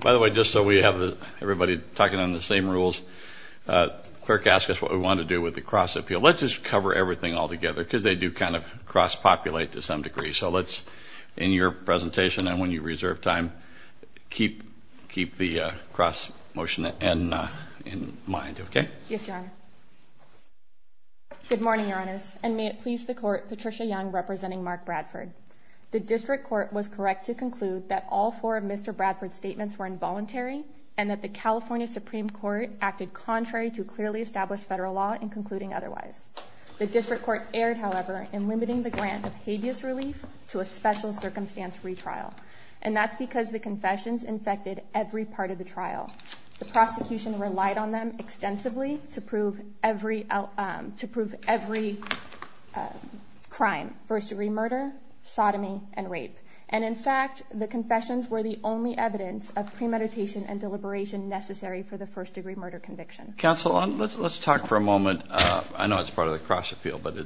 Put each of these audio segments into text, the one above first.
By the way, just so we have everybody talking on the same rules, the clerk asked us what we want to do with the cross-appeal. Let's just cover everything all together, because they do kind of cross-populate to some degree. So let's, in your presentation and when you reserve time, keep the cross-motion in mind, OK? Yes, Your Honor. Good morning, Your Honors, and may it please the Court, Patricia Young representing Mark Bradford. The District Court was correct to conclude that all four of Mr. Bradford's statements were involuntary, and that the California Supreme Court acted contrary to clearly established federal law in concluding otherwise. The District Court erred, however, in limiting the grant of habeas relief to a special circumstance retrial, and that's because the confessions infected every part of the trial. The prosecution relied on them extensively to prove every crime, first-degree murder, sodomy, and rape. And in fact, the confessions were the only evidence of premeditation and deliberation necessary for the first-degree murder conviction. Counsel, let's talk for a moment. I know it's part of the cross-appeal, but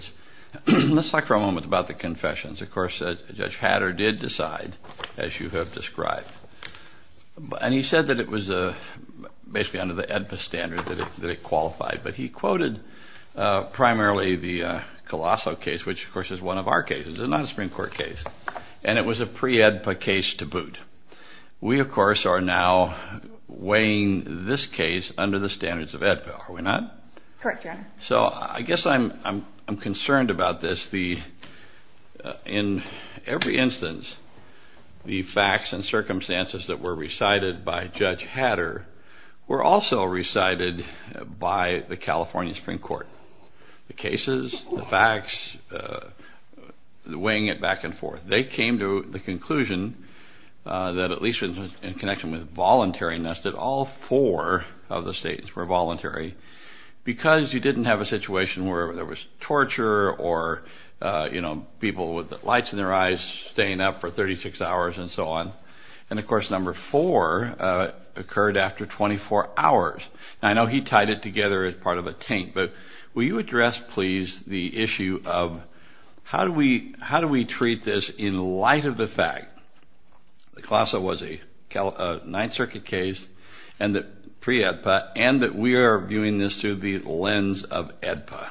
let's talk for a moment about the confessions. Of course, Judge Hatter did decide, as you have described. And he said that it was basically under the AEDPA standard that it qualified, but he quoted primarily the Colosso case, which, of course, is one of our cases. It's not a Supreme Court case, and it was a pre-AEDPA case to boot. We, of course, are now weighing this case under the standards of AEDPA, are we not? Correct, Your Honor. So I guess I'm concerned about this. In every instance, the facts and circumstances that were recited by Judge Hatter were also recited by the California Supreme Court. The cases, the facts, weighing it back and forth, they came to the conclusion that at least in connection with voluntariness that all four of the states were voluntary because you didn't have a situation where there was torture or, you know, people with lights in their eyes staying up for 36 hours and so on. And, of course, number four occurred after 24 hours. And I know he tied it together as part of a taint, but will you address, please, the issue of how do we treat this in light of the fact that Colosso was a Ninth Circuit case and that pre-AEDPA and that we are viewing this through the lens of AEDPA?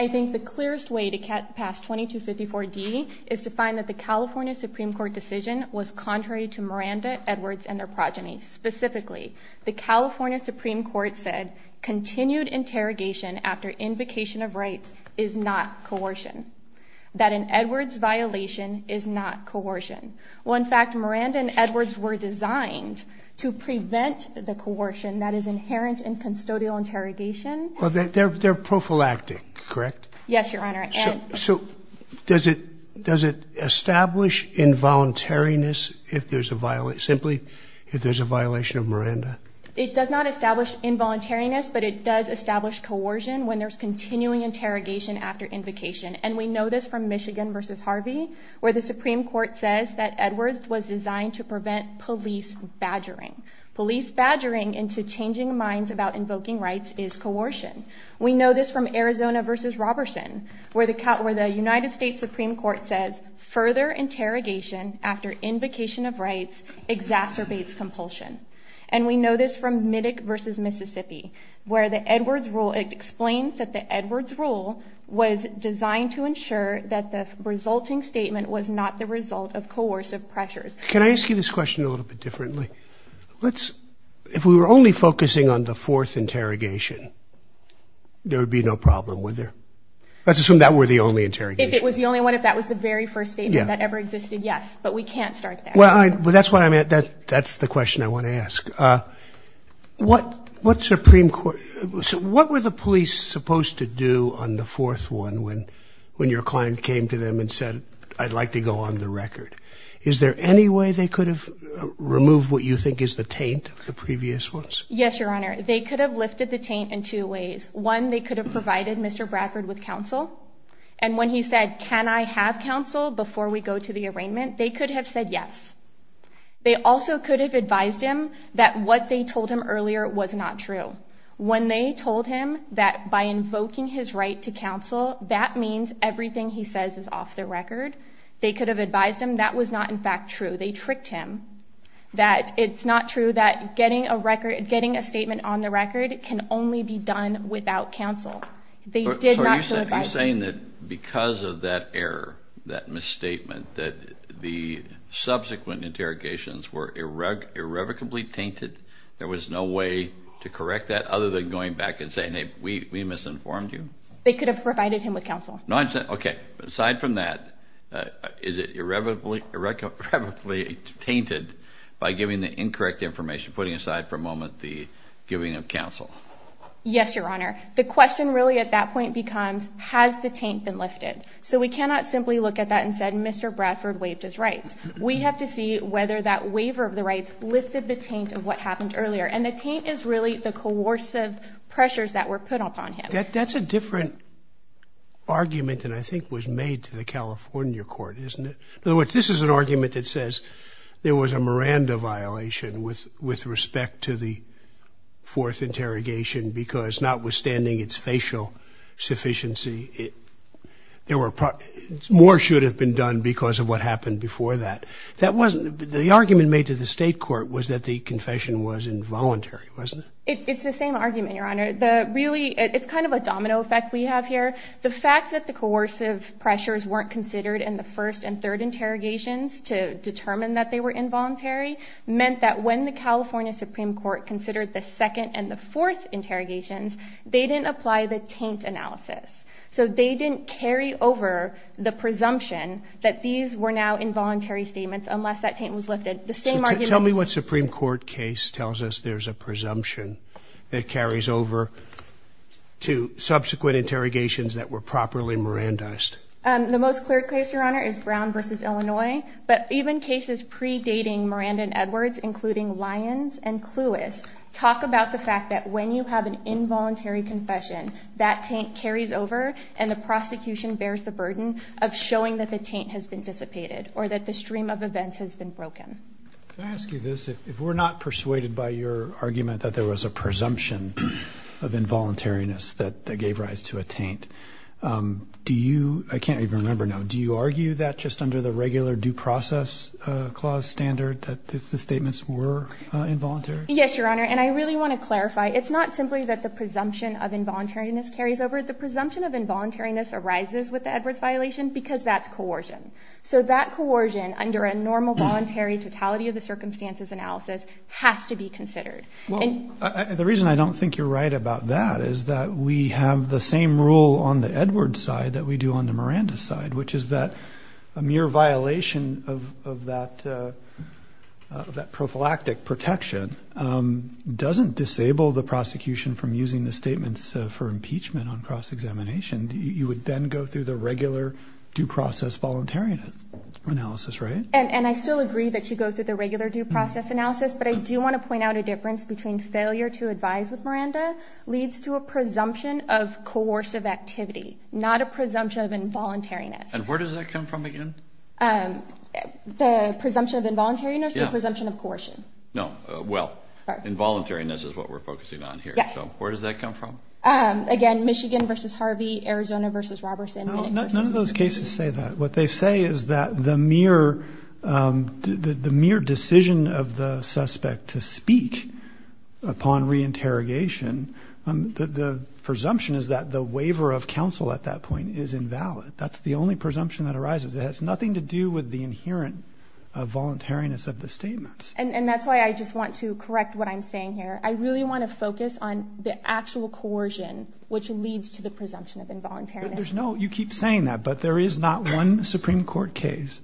I think the clearest way to pass 2254D is to find that the California Supreme Court decision was contrary to Miranda, Edwards, and their progeny. Specifically, the California Supreme Court said continued interrogation after invocation of rights is not coercion, that an Edwards violation is not coercion. Well, in fact, Miranda and Edwards were designed to prevent the coercion that is inherent in custodial interrogation. Well, they're prophylactic, correct? Yes, Your Honor. So does it establish involuntariness simply if there's a violation of Miranda? It does not establish involuntariness, but it does establish coercion when there's continuing interrogation after invocation. And we know this from Michigan v. Harvey, where the Supreme Court says that Edwards was designed to prevent police badgering. Police badgering into changing minds about invoking rights is coercion. We know this from Arizona v. Robertson, where the United States Supreme Court says further interrogation after invocation of rights exacerbates compulsion. And we know this from Middick v. Mississippi, where the Edwards rule explains that the Edwards rule was designed to ensure that the resulting statement was not the result of coercive pressures. Can I ask you this question a little bit differently? If we were only focusing on the fourth interrogation, there would be no problem, would there? Let's assume that were the only interrogation. If it was the only one, if that was the very first statement that ever existed, yes. But we can't start there. Well, that's the question I want to ask. What were the police supposed to do on the fourth one when your client came to them and said, I'd like to go on the record? Is there any way they could have removed what you think is the taint of the previous ones? Yes, Your Honor. They could have lifted the taint in two ways. One, they could have provided Mr. Bradford with counsel. And when he said, can I have counsel before we go to the arraignment, they could have said yes. They also could have advised him that what they told him earlier was not true. When they told him that by invoking his right to counsel, that means everything he says is off the record, they could have advised him that was not, in fact, true. They tricked him that it's not true that getting a statement on the record can only be done without counsel. So you're saying that because of that error, that misstatement, that the subsequent interrogations were irrevocably tainted, there was no way to correct that other than going back and saying, hey, we misinformed you? They could have provided him with counsel. Okay. Aside from that, is it irrevocably tainted by giving the incorrect information, putting aside for a moment the giving of counsel? Yes, Your Honor. The question really at that point becomes, has the taint been lifted? So we cannot simply look at that and say, Mr. Bradford waived his rights. We have to see whether that waiver of the rights lifted the taint of what happened earlier. And the taint is really the coercive pressures that were put upon him. That's a different argument than I think was made to the California court, isn't it? In other words, this is an argument that says there was a Miranda violation with respect to the fourth interrogation because notwithstanding its facial sufficiency, more should have been done because of what happened before that. The argument made to the state court was that the confession was involuntary, wasn't it? It's the same argument, Your Honor. Really, it's kind of a domino effect we have here. The fact that the coercive pressures weren't considered in the first and third interrogations to determine that they were involuntary meant that when the California Supreme Court considered the second and the fourth interrogations, they didn't apply the taint analysis. So they didn't carry over the presumption that these were now involuntary statements unless that taint was lifted. Tell me what Supreme Court case tells us there's a presumption that carries over to subsequent interrogations that were properly Mirandized. The most clear case, Your Honor, is Brown v. Illinois. But even cases predating Miranda and Edwards, including Lyons and Cluess, talk about the fact that when you have an involuntary confession, that taint carries over and the prosecution bears the burden of showing that the taint has been dissipated or that the stream of events has been broken. Can I ask you this? If we're not persuaded by your argument that there was a presumption of involuntariness that gave rise to a taint, do you, I can't even remember now, do you argue that just under the regular due process clause standard that the statements were involuntary? Yes, Your Honor. And I really want to clarify. It's not simply that the presumption of involuntariness carries over. The presumption of involuntariness arises with the Edwards violation because that's coercion. So that coercion under a normal voluntary totality of the circumstances analysis has to be considered. Well, the reason I don't think you're right about that is that we have the same rule on the Edwards side that we do on the Miranda side, which is that a mere violation of that prophylactic protection doesn't disable the prosecution from using the statements for impeachment on cross-examination. You would then go through the regular due process voluntariness analysis, right? And I still agree that you go through the regular due process analysis, but I do want to point out a difference between failure to advise with Miranda leads to a presumption of coercive activity, not a presumption of involuntariness. And where does that come from again? The presumption of involuntariness or the presumption of coercion? No. Well, involuntariness is what we're focusing on here. Yes. So where does that come from? Again, Michigan versus Harvey, Arizona versus Robertson. None of those cases say that. What they say is that the mere decision of the suspect to speak upon reinterrogation, the presumption is that the waiver of counsel at that point is invalid. That's the only presumption that arises. It has nothing to do with the inherent voluntariness of the statements. And that's why I just want to correct what I'm saying here. I really want to focus on the actual coercion, which leads to the presumption of involuntariness. You keep saying that, but there is not one Supreme Court case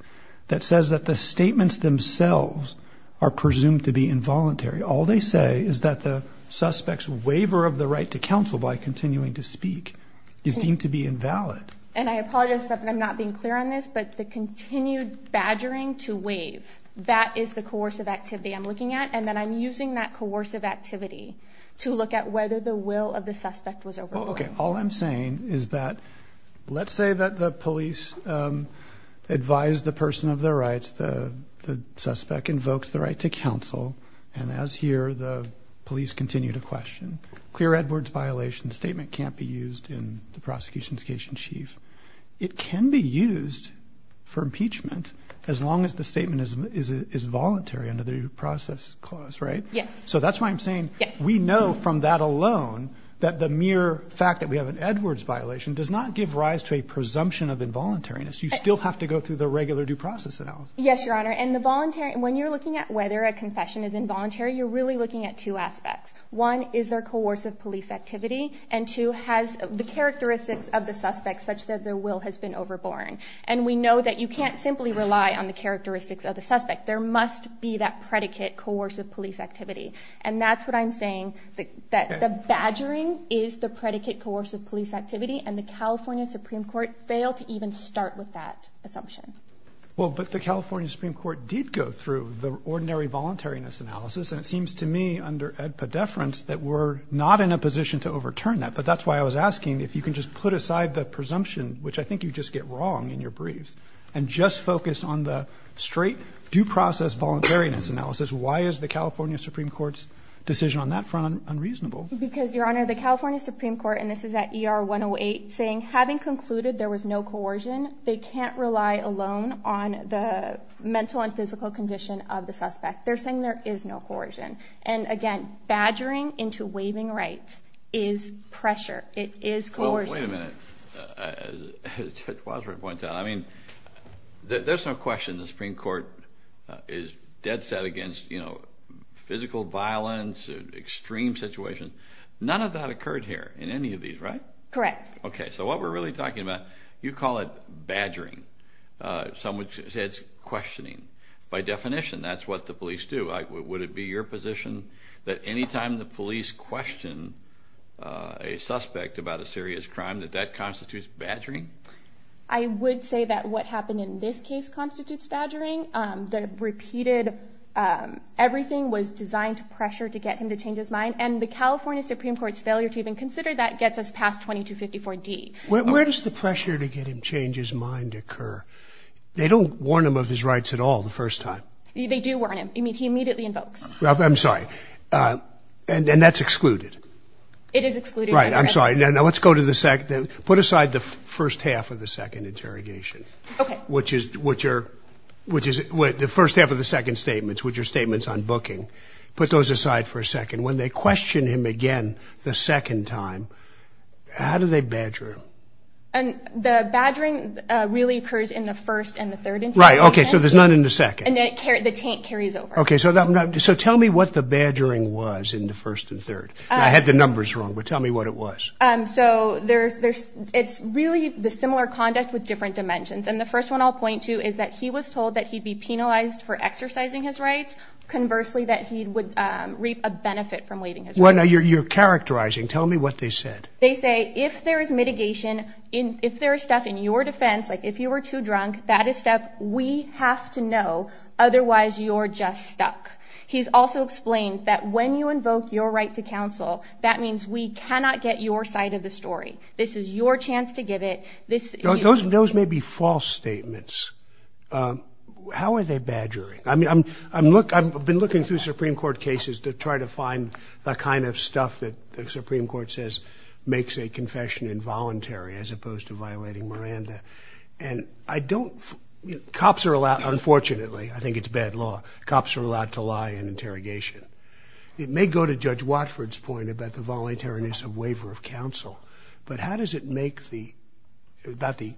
that says that the statements themselves are presumed to be involuntary. All they say is that the suspect's waiver of the right to counsel by continuing to speak is deemed to be invalid. And I apologize if I'm not being clear on this, but the continued badgering to waive, that is the coercive activity I'm looking at, and then I'm using that coercive activity to look at whether the will of the suspect was overbought. Okay. All I'm saying is that let's say that the police advise the person of their rights, the suspect invokes the right to counsel, and as here, the police continue to question. Clear Edwards violation statement can't be used in the prosecution's case in chief. It can be used for impeachment as long as the statement is voluntary under the due process clause, right? Yes. So that's why I'm saying we know from that alone that the mere fact that we have an Edwards violation does not give rise to a presumption of involuntariness. You still have to go through the regular due process analysis. Yes, Your Honor, and when you're looking at whether a confession is involuntary, you're really looking at two aspects. One is their coercive police activity, and two has the characteristics of the suspect such that the will has been overbought. And we know that you can't simply rely on the characteristics of the suspect. There must be that predicate coercive police activity. And that's what I'm saying, that the badgering is the predicate coercive police activity, and the California Supreme Court failed to even start with that assumption. Well, but the California Supreme Court did go through the ordinary voluntariness analysis, and it seems to me under Ed Poddeference that we're not in a position to overturn that. But that's why I was asking if you can just put aside the presumption, which I think you just get wrong in your briefs, and just focus on the straight due process voluntariness analysis. Why is the California Supreme Court's decision on that front unreasonable? Because, Your Honor, the California Supreme Court, and this is at ER 108, saying having concluded there was no coercion, they can't rely alone on the mental and physical condition of the suspect. They're saying there is no coercion. And again, badgering into waiving rights is pressure. It is coercion. Wait a minute. As Judge Wadsworth points out, I mean, there's no question the Supreme Court is dead set against, you know, physical violence, extreme situations. None of that occurred here in any of these, right? Correct. Okay. So what we're really talking about, you call it badgering. Some would say it's questioning. By definition, that's what the police do. Would it be your position that anytime the police question a suspect about a serious crime, that that constitutes badgering? I would say that what happened in this case constitutes badgering. The repeated everything was designed to pressure to get him to change his mind. And the California Supreme Court's failure to even consider that gets us past 2254D. Where does the pressure to get him to change his mind occur? They don't warn him of his rights at all the first time. They do warn him. I mean, he immediately invokes. I'm sorry. And that's excluded. It is excluded. Right. I'm sorry. Now let's go to the second. Put aside the first half of the second interrogation. Okay. Which is the first half of the second statements, which are statements on booking. Put those aside for a second. When they question him again the second time, how do they badger him? The badgering really occurs in the first and the third interrogation. Right. Okay. So there's none in the second. And the tank carries over. Okay. So tell me what the badgering was in the first and third. I had the numbers wrong, but tell me what it was. So it's really the similar conduct with different dimensions. And the first one I'll point to is that he was told that he'd be penalized for exercising his rights. Conversely, that he would reap a benefit from waiving his rights. Now you're characterizing. Tell me what they said. They say if there is mitigation, if there is stuff in your defense, like if you were too drunk, that is stuff we have to know, otherwise you're just stuck. He's also explained that when you invoke your right to counsel, that means we cannot get your side of the story. This is your chance to give it. Those may be false statements. How are they badgering? I mean, I've been looking through Supreme Court cases to try to find the kind of stuff that the Supreme Court says makes a confession involuntary as opposed to violating Miranda. And I don't, cops are allowed, unfortunately, I think it's bad law, cops are allowed to lie in interrogation. It may go to Judge Watford's point about the voluntariness of waiver of counsel, but how does it make the, not the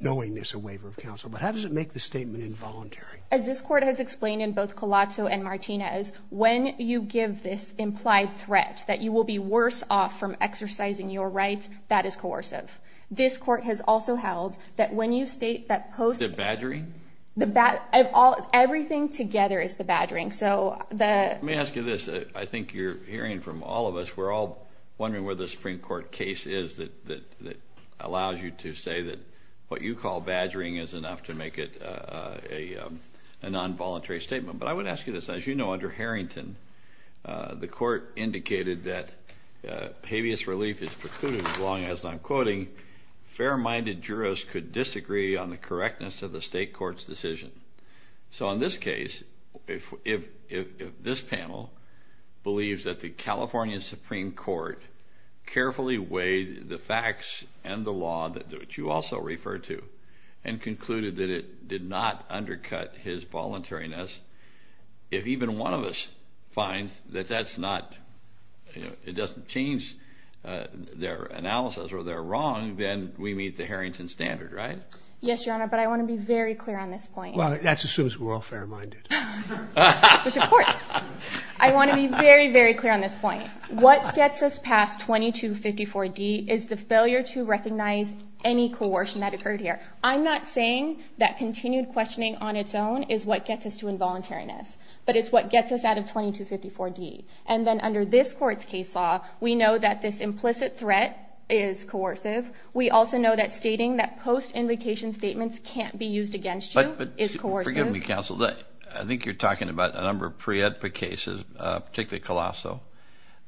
knowingness of waiver of counsel, but how does it make the statement involuntary? As this court has explained in both Colazzo and Martinez, when you give this implied threat that you will be worse off from exercising your rights, that is coercive. This court has also held that when you state that post- Is it badgering? Everything together is the badgering, so the- Let me ask you this, I think you're hearing from all of us, we're all wondering where the Supreme Court case is that allows you to say that what you call badgering is enough to make it a non-voluntary statement. But I would ask you this, as you know, under Harrington, the court indicated that habeas relief is precluded as long as, I'm quoting, fair-minded jurists could disagree on the correctness of the state court's decision. So in this case, if this panel believes that the California Supreme Court carefully weighed the facts and the law that you also refer to and concluded that it did not undercut his voluntariness, if even one of us finds that that's not- it doesn't change their analysis or they're wrong, then we meet the Harrington standard, right? Yes, Your Honor, but I want to be very clear on this point. Well, that's as soon as we're all fair-minded. Mr. Court, I want to be very, very clear on this point. What gets us past 2254D is the failure to recognize any coercion that occurred here. I'm not saying that continued questioning on its own is what gets us to involuntariness, but it's what gets us out of 2254D. And then under this court's case law, we know that this implicit threat is coercive. We also know that stating that post-invocation statements can't be used against you is coercive. But forgive me, counsel, I think you're talking about a number of pre-EDPA cases, particularly Colasso,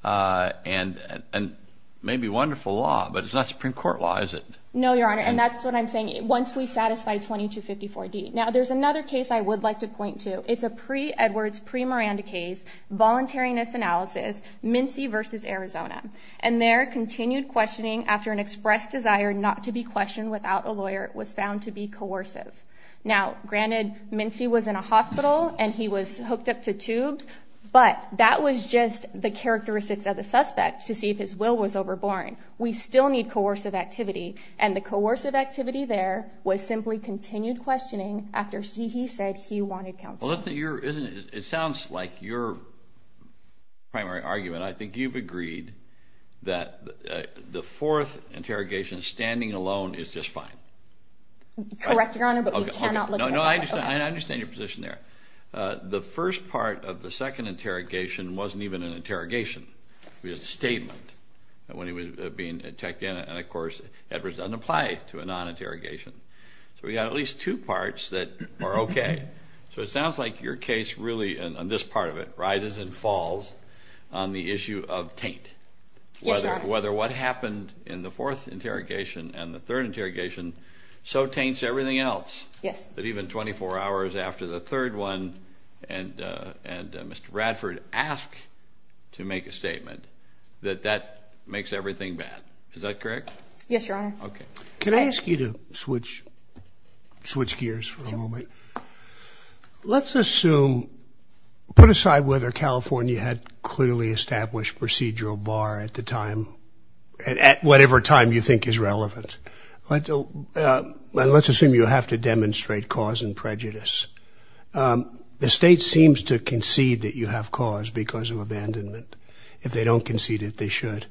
and maybe wonderful law, but it's not Supreme Court law, is it? No, Your Honor, and that's what I'm saying, once we satisfy 2254D. Now, there's another case I would like to point to. It's a pre-Edwards, pre-Miranda case, voluntariness analysis, Mincy v. Arizona. And there, continued questioning after an expressed desire not to be questioned without a lawyer was found to be coercive. Now, granted, Mincy was in a hospital and he was hooked up to tubes, but that was just the characteristics of the suspect to see if his will was overboring. We still need coercive activity, and the coercive activity there was simply continued questioning after he said he wanted counsel. It sounds like your primary argument. I think you've agreed that the fourth interrogation, standing alone, is just fine. Correct, Your Honor, but we cannot look at that. No, I understand your position there. The first part of the second interrogation wasn't even an interrogation. It was a statement when he was being checked in. And, of course, Edwards doesn't apply to a non-interrogation. So we've got at least two parts that are okay. So it sounds like your case really, on this part of it, rises and falls on the issue of taint. Yes, Your Honor. Whether what happened in the fourth interrogation and the third interrogation so taints everything else that even 24 hours after the third one and Mr. Radford asked to make a statement, that that makes everything bad. Is that correct? Yes, Your Honor. Can I ask you to switch gears for a moment? Let's assume, put aside whether California had clearly established procedural bar at the time, at whatever time you think is relevant, and let's assume you have to demonstrate cause and prejudice. The state seems to concede that you have cause because of abandonment. If they don't concede it, they should.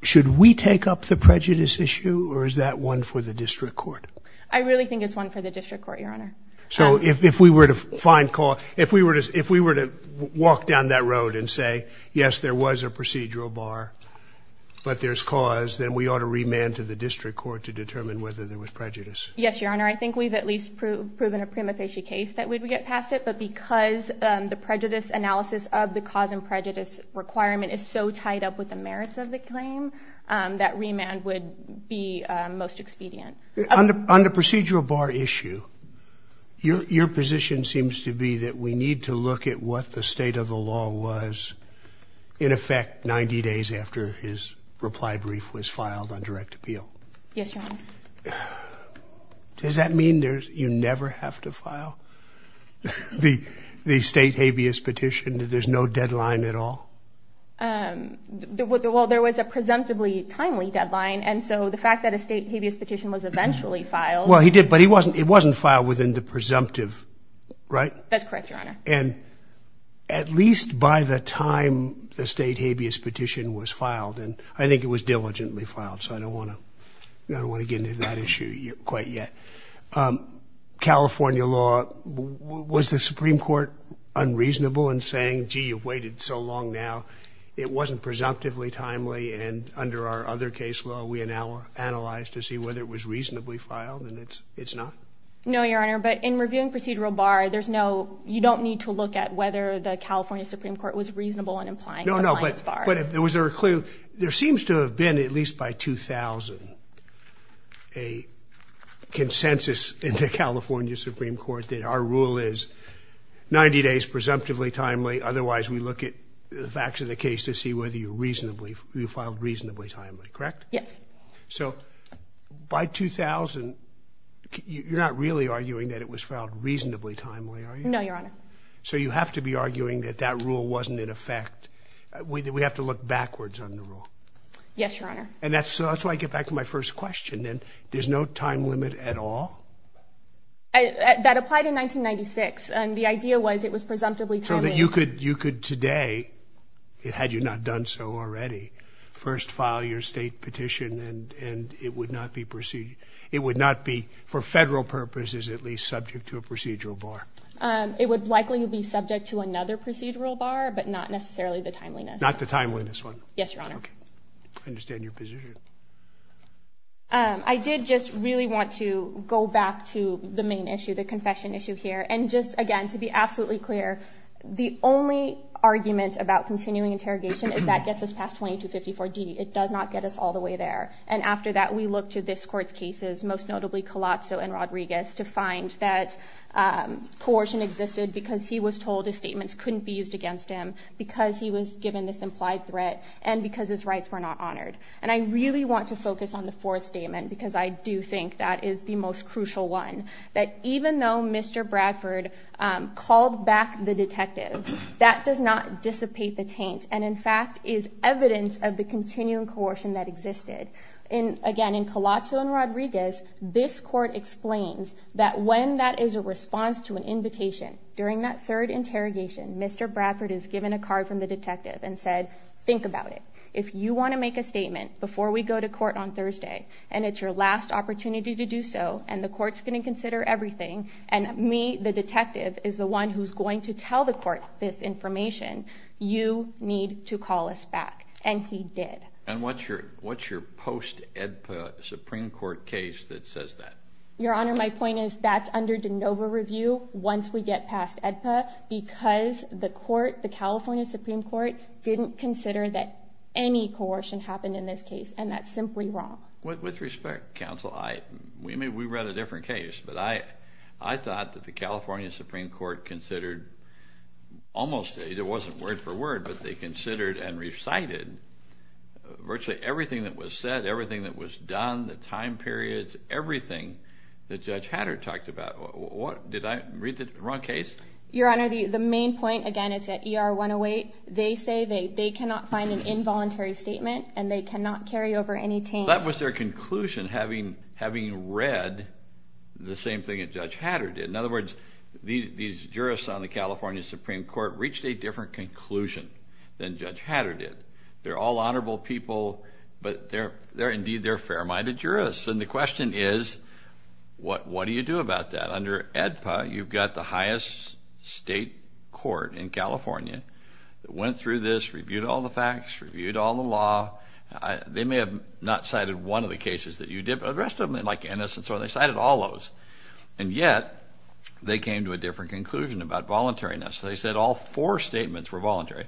Should we take up the prejudice issue or is that one for the district court? I really think it's one for the district court, Your Honor. So if we were to find cause, if we were to walk down that road and say, yes, there was a procedural bar, but there's cause, then we ought to remand to the district court to determine whether there was prejudice. Yes, Your Honor. I think we've at least proven a prima facie case that we'd get past it, but because the prejudice analysis of the cause and prejudice requirement is so tied up with the merits of the claim, that remand would be most expedient. On the procedural bar issue, your position seems to be that we need to look at what the state of the law was, in effect, 90 days after his reply brief was filed on direct appeal. Yes, Your Honor. Does that mean you never have to file the state habeas petition, that there's no deadline at all? Well, there was a presumptively timely deadline, and so the fact that a state habeas petition was eventually filed- Well, he did, but it wasn't filed within the presumptive, right? That's correct, Your Honor. And at least by the time the state habeas petition was filed, and I think it was diligently filed, so I don't want to get into that issue quite yet, California law, was the Supreme Court unreasonable in saying, gee, you've waited so long now, it wasn't presumptively timely, and under our other case law, we analyzed to see whether it was reasonably filed, and it's not. No, Your Honor, but in reviewing procedural bar, there's no, you don't need to look at whether the California Supreme Court was reasonable in implying compliance bar. No, no, but was there a clear, there seems to have been, at least by 2000, a consensus in the California Supreme Court that our rule is 90 days presumptively timely, otherwise we look at the facts of the case to see whether you filed reasonably timely, correct? Yes. So by 2000, you're not really arguing that it was filed reasonably timely, are you? No, Your Honor. So you have to be arguing that that rule wasn't in effect. We have to look backwards on the rule. Yes, Your Honor. And that's why I get back to my first question, then. There's no time limit at all? That applied in 1996, and the idea was it was presumptively timely. So that you could today, had you not done so already, first file your state petition and it would not be for federal purposes at least subject to a procedural bar? It would likely be subject to another procedural bar, but not necessarily the timeliness. Not the timeliness one? Yes, Your Honor. Okay. I understand your position. I did just really want to go back to the main issue, the confession issue here. And just, again, to be absolutely clear, the only argument about continuing interrogation is that gets us past 2254D. It does not get us all the way there. And after that, we look to this Court's cases, most notably Colazzo and Rodriguez, to find that coercion existed because he was told his statements couldn't be used against him, because he was given this implied threat, and because his rights were not honored. And I really want to focus on the fourth statement, because I do think that is the most crucial one, that even though Mr. Bradford called back the detective, that does not dissipate the taint, and in fact is evidence of the continuing coercion that existed. Again, in Colazzo and Rodriguez, this Court explains that when that is a response to an invitation, during that third interrogation, Mr. Bradford is given a card from the detective and said, Think about it. If you want to make a statement before we go to court on Thursday, and it's your last opportunity to do so, and the Court's going to consider everything, and me, the detective, is the one who's going to tell the Court this information, you need to call us back. And he did. And what's your post-AEDPA Supreme Court case that says that? Your Honor, my point is that's under de novo review once we get past AEDPA, because the California Supreme Court didn't consider that any coercion happened in this case, and that's simply wrong. With respect, counsel, we read a different case, but I thought that the California Supreme Court considered almost, it wasn't word for word, but they considered and recited virtually everything that was said, everything that was done, the time periods, everything that Judge Hatter talked about. Did I read the wrong case? Your Honor, the main point, again, it's at ER 108. They say they cannot find an involuntary statement, and they cannot carry over any taint. That was their conclusion, having read the same thing that Judge Hatter did. In other words, these jurists on the California Supreme Court reached a different conclusion than Judge Hatter did. They're all honorable people, but indeed they're fair-minded jurists. And the question is, what do you do about that? Under AEDPA, you've got the highest state court in California that went through this, reviewed all the facts, reviewed all the law. They may have not cited one of the cases that you did, but the rest of them, like Ennis and so on, they cited all those, and yet they came to a different conclusion about voluntariness. They said all four statements were voluntary.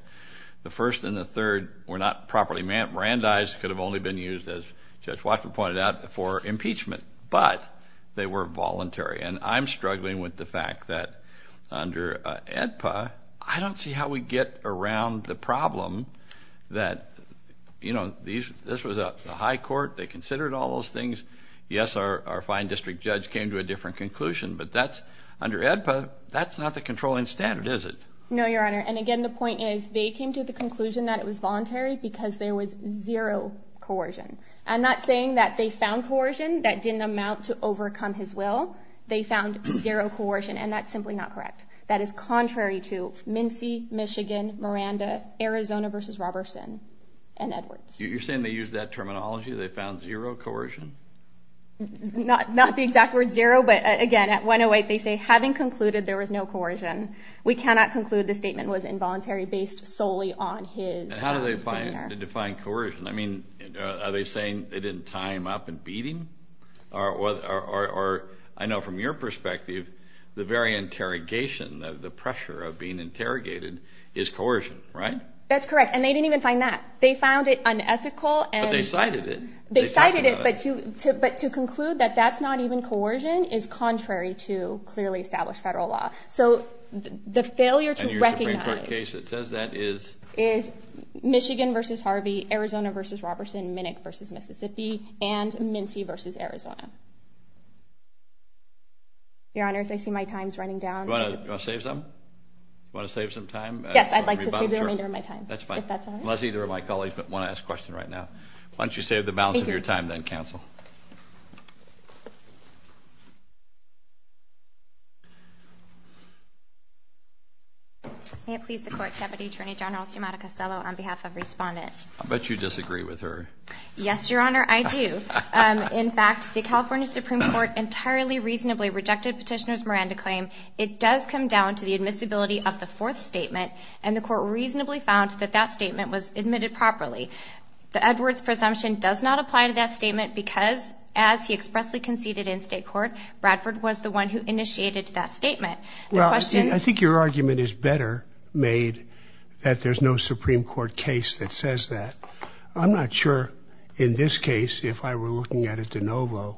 The first and the third were not properly brandized, could have only been used, as Judge Watson pointed out, for impeachment, but they were voluntary. And I'm struggling with the fact that under AEDPA, I don't see how we get around the problem that, you know, this was a high court, they considered all those things. Yes, our fine district judge came to a different conclusion, but that's under AEDPA, that's not the controlling standard, is it? No, Your Honor, and again, the point is they came to the conclusion that it was voluntary because there was zero coercion. I'm not saying that they found coercion that didn't amount to overcome his will. They found zero coercion, and that's simply not correct. That is contrary to Mincy, Michigan, Miranda, Arizona v. Robertson, and Edwards. You're saying they used that terminology, they found zero coercion? Not the exact word zero, but again, at 108 they say, having concluded there was no coercion, we cannot conclude the statement was involuntary based solely on his demeanor. How do they define coercion? I mean, are they saying they didn't tie him up in beating? Or I know from your perspective, the very interrogation, the pressure of being interrogated is coercion, right? That's correct, and they didn't even find that. They found it unethical. But they cited it. They cited it, but to conclude that that's not even coercion is contrary to clearly established federal law. So the failure to recognize is Michigan v. Harvey, Arizona v. Robertson, Minick v. Mississippi, and Mincy v. Arizona. Your Honors, I see my time is running down. Do you want to save some? Do you want to save some time? Yes, I'd like to save the remainder of my time, if that's all right. Unless either of my colleagues want to ask a question right now. Why don't you save the balance of your time then, Counsel? May it please the Court, Deputy Attorney General Sciamatta-Costello, on behalf of Respondent. I'll bet you disagree with her. Yes, Your Honor, I do. In fact, the California Supreme Court entirely reasonably rejected Petitioner's Miranda claim. It does come down to the admissibility of the fourth statement, and the Court reasonably found that that statement was admitted properly. The Edwards presumption does not apply to that statement because, as he expressly conceded in state court, Bradford was the one who initiated that statement. Well, I think your argument is better made that there's no Supreme Court case that says that. I'm not sure, in this case, if I were looking at a de novo,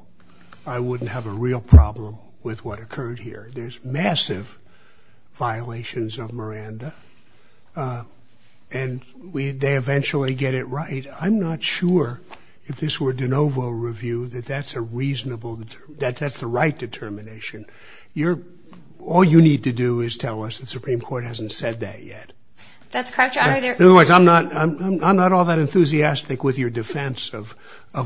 I wouldn't have a real problem with what occurred here. There's massive violations of Miranda, and they eventually get it right. I'm not sure, if this were a de novo review, that that's the right determination. All you need to do is tell us the Supreme Court hasn't said that yet. That's correct, Your Honor. Otherwise, I'm not all that enthusiastic with your defense of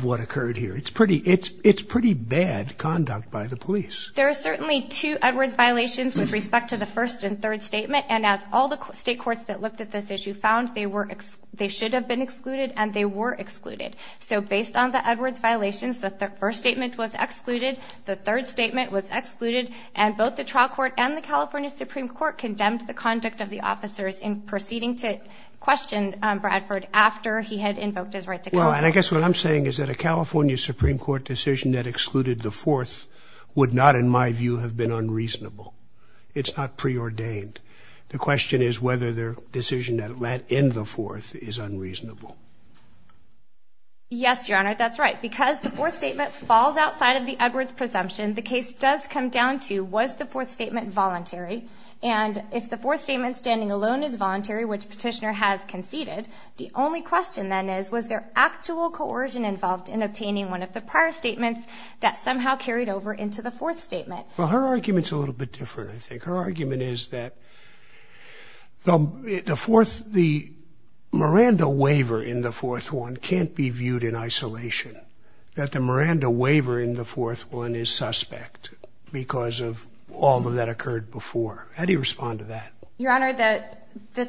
what occurred here. It's pretty bad conduct by the police. There are certainly two Edwards violations with respect to the first and third statement. And as all the state courts that looked at this issue found, they should have been excluded, and they were excluded. So based on the Edwards violations, the first statement was excluded, the third statement was excluded, and both the trial court and the California Supreme Court condemned the conduct of the officers in proceeding to question Bradford after he had invoked his right to counsel. And I guess what I'm saying is that a California Supreme Court decision that excluded the fourth would not, in my view, have been unreasonable. It's not preordained. The question is whether their decision that let in the fourth is unreasonable. Yes, Your Honor, that's right. Because the fourth statement falls outside of the Edwards presumption, the case does come down to, was the fourth statement voluntary? And if the fourth statement standing alone is voluntary, which Petitioner has conceded, the only question then is, was there actual coercion involved in obtaining one of the prior statements that somehow carried over into the fourth statement? Well, her argument's a little bit different, I think. Her argument is that the Miranda waiver in the fourth one can't be viewed in isolation, that the Miranda waiver in the fourth one is suspect because of all of that occurred before. How do you respond to that? Your Honor, that's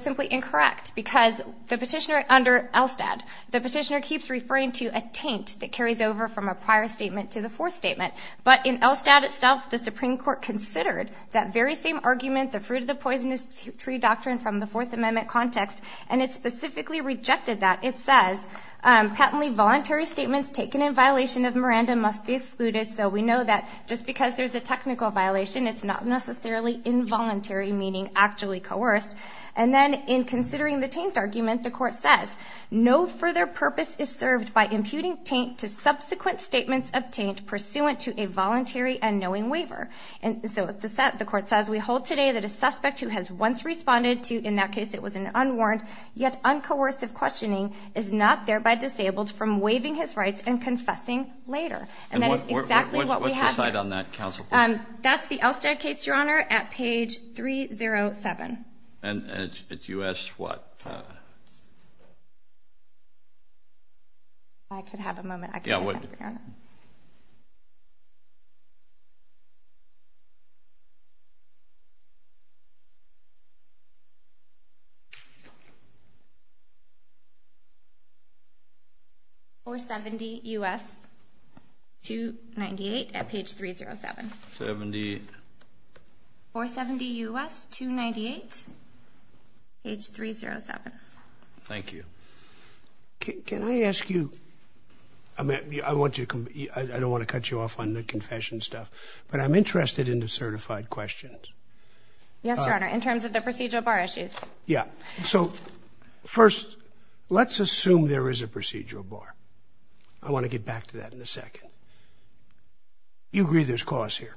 simply incorrect, because the Petitioner under ELSTAD, the Petitioner keeps referring to a taint that carries over from a prior statement to the fourth statement. But in ELSTAD itself, the Supreme Court considered that very same argument, the fruit-of-the-poisonous-tree doctrine from the Fourth Amendment context, and it specifically rejected that. It says, patently voluntary statements taken in violation of Miranda must be excluded. So we know that just because there's a technical violation, it's not necessarily involuntary, meaning actually coerced. And then in considering the taint argument, the Court says, no further purpose is served by imputing taint to subsequent statements obtained pursuant to a voluntary and knowing waiver. And so the Court says, we hold today that a suspect who has once responded to, in that case it was an unwarranted, yet uncoercive questioning is not thereby disabled from waiving his rights and confessing later. And that is exactly what we have here. And what's the cite on that, counsel? That's the ELSTAD case, Your Honor, at page 307. And it's U.S. what? I could have a moment. Yeah, what? Your Honor. 470 U.S. 298 at page 307. 70. 470 U.S. 298, page 307. Thank you. Can I ask you, I don't want to cut you off on the confession stuff, but I'm interested in the certified questions. Yes, Your Honor, in terms of the procedural bar issues. Yeah. So first, let's assume there is a procedural bar. I want to get back to that in a second. You agree there's cause here?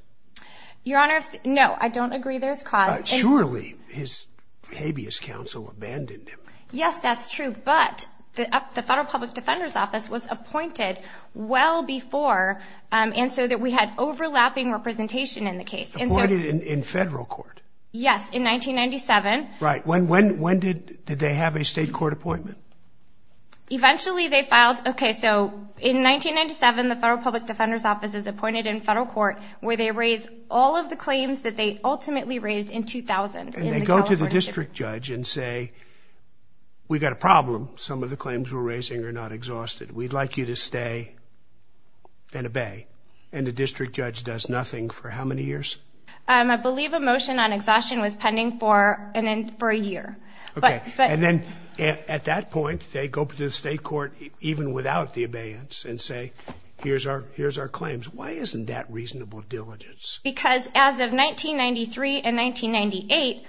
Your Honor, no, I don't agree there's cause. Surely his habeas counsel abandoned him. Yes, that's true. But the Federal Public Defender's Office was appointed well before and so that we had overlapping representation in the case. Appointed in federal court? Yes, in 1997. Right. When did they have a state court appointment? Eventually they filed. Okay, so in 1997, the Federal Public Defender's Office is appointed in federal court where they raise all of the claims that they ultimately raised in 2000. And they go to the district judge and say, we've got a problem. Some of the claims we're raising are not exhausted. We'd like you to stay and obey. And the district judge does nothing for how many years? I believe a motion on exhaustion was pending for a year. Okay. And then at that point, they go to the state court even without the abeyance and say, here's our claims. Why isn't that reasonable diligence? Because as of 1993 and 1998,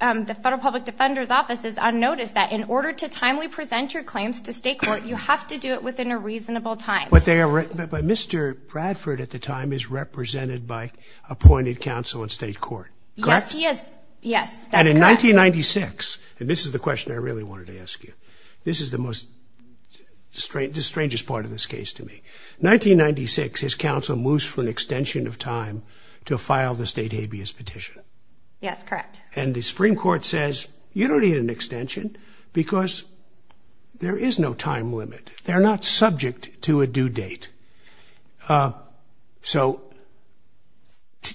the Federal Public Defender's Office is on notice that in order to timely present your claims to state court, you have to do it within a reasonable time. But Mr. Bradford at the time is represented by appointed counsel in state court, correct? Yes, he is. Yes, that's correct. And in 1996, and this is the question I really wanted to ask you. This is the strangest part of this case to me. 1996, his counsel moves for an extension of time to file the state habeas petition. Yes, correct. And the Supreme Court says, you don't need an extension because there is no time limit. They're not subject to a due date. So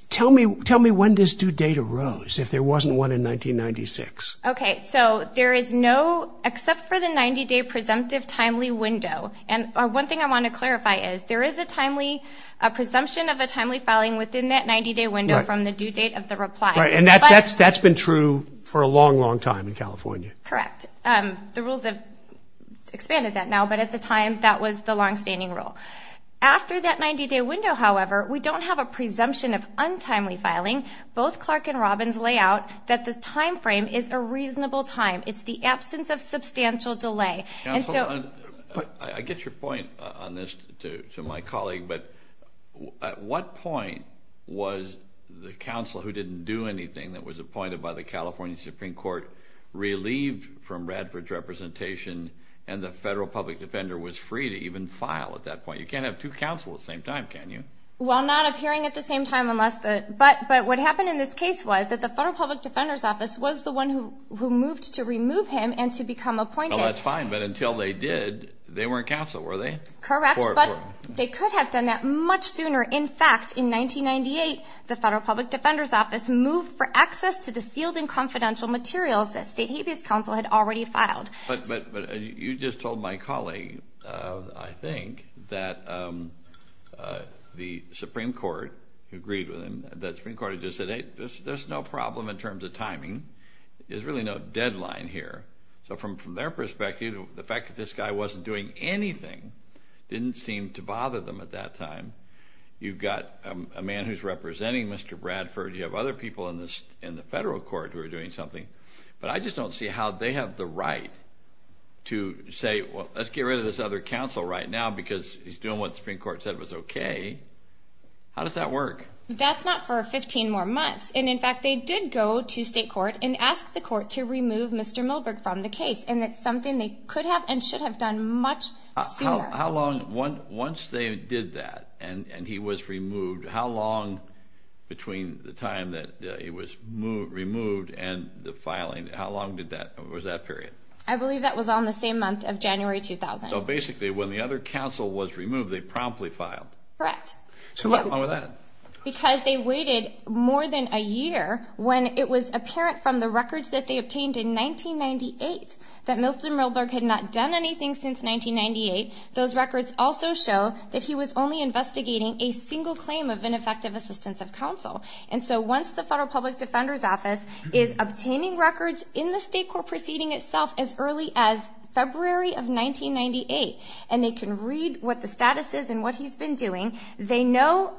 tell me when this due date arose if there wasn't one in 1996. Okay. So there is no, except for the 90-day presumptive timely window. And one thing I want to clarify is there is a timely, a presumption of a timely filing within that 90-day window from the due date of the reply. Right, and that's been true for a long, long time in California. Correct. The rules have expanded that now, but at the time, that was the longstanding rule. After that 90-day window, however, we don't have a presumption of untimely filing. Both Clark and Robbins lay out that the time frame is a reasonable time. It's the absence of substantial delay. I get your point on this to my colleague, but at what point was the counsel who didn't do anything that was appointed by the California Supreme Court relieved from Radford's representation and the federal public defender was free to even file at that point? You can't have two counsels at the same time, can you? Well, not appearing at the same time unless the, but what happened in this case was that the federal public defender's office was the one who moved to remove him and to become appointed. Well, that's fine, but until they did, they weren't counsel, were they? Correct, but they could have done that much sooner. In fact, in 1998, the federal public defender's office moved for access to the sealed and confidential materials that state habeas counsel had already filed. But you just told my colleague, I think, that the Supreme Court agreed with him, that the Supreme Court just said, hey, there's no problem in terms of timing. There's really no deadline here. So from their perspective, the fact that this guy wasn't doing anything didn't seem to bother them at that time. You've got a man who's representing Mr. Radford. You have other people in the federal court who are doing something. But I just don't see how they have the right to say, well, let's get rid of this other counsel right now because he's doing what the Supreme Court said was okay. How does that work? That's not for 15 more months. And, in fact, they did go to state court and ask the court to remove Mr. Milberg from the case, and that's something they could have and should have done much sooner. How long once they did that and he was removed, how long between the time that he was removed and the filing, how long was that period? I believe that was on the same month of January 2000. So basically when the other counsel was removed, they promptly filed. Correct. So what's wrong with that? Because they waited more than a year when it was apparent from the records that they obtained in 1998 that Milton Milberg had not done anything since 1998. Those records also show that he was only investigating a single claim of ineffective assistance of counsel. And so once the Federal Public Defender's Office is obtaining records in the state court proceeding itself as early as February of 1998 and they can read what the status is and what he's been doing, they know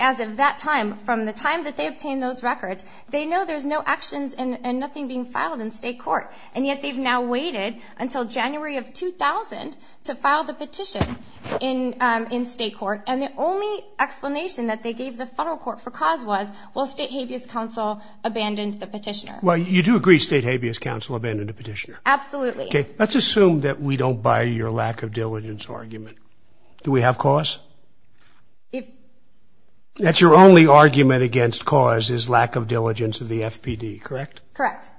as of that time, from the time that they obtained those records, they know there's no actions and nothing being filed in state court. And yet they've now waited until January of 2000 to file the petition in state court. And the only explanation that they gave the federal court for cause was, well, State Habeas Counsel abandoned the petitioner. Well, you do agree State Habeas Counsel abandoned the petitioner. Absolutely. Okay. Let's assume that we don't buy your lack of diligence argument. Do we have cause? If... That's your only argument against cause is lack of diligence of the FPD, correct? Correct.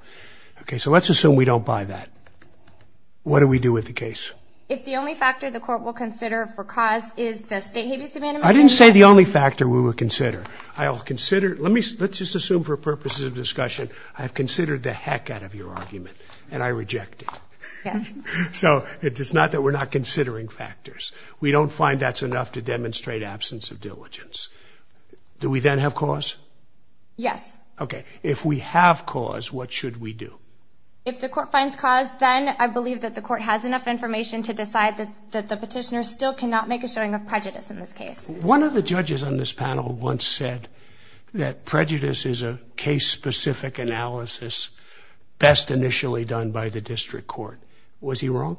Okay. So let's assume we don't buy that. What do we do with the case? If the only factor the court will consider for cause is the State Habeas Abandonment... I didn't say the only factor we would consider. I'll consider... Let me... Let's just assume for purposes of discussion I have considered the heck out of your argument and I reject it. Yes. So it's not that we're not considering factors. We don't find that's enough to demonstrate absence of diligence. Do we then have cause? Yes. Okay. If we have cause, what should we do? If the court finds cause, then I believe that the court has enough information to decide that the petitioner still cannot make a showing of prejudice in this case. One of the judges on this panel once said that prejudice is a case-specific analysis best initially done by the district court. Was he wrong?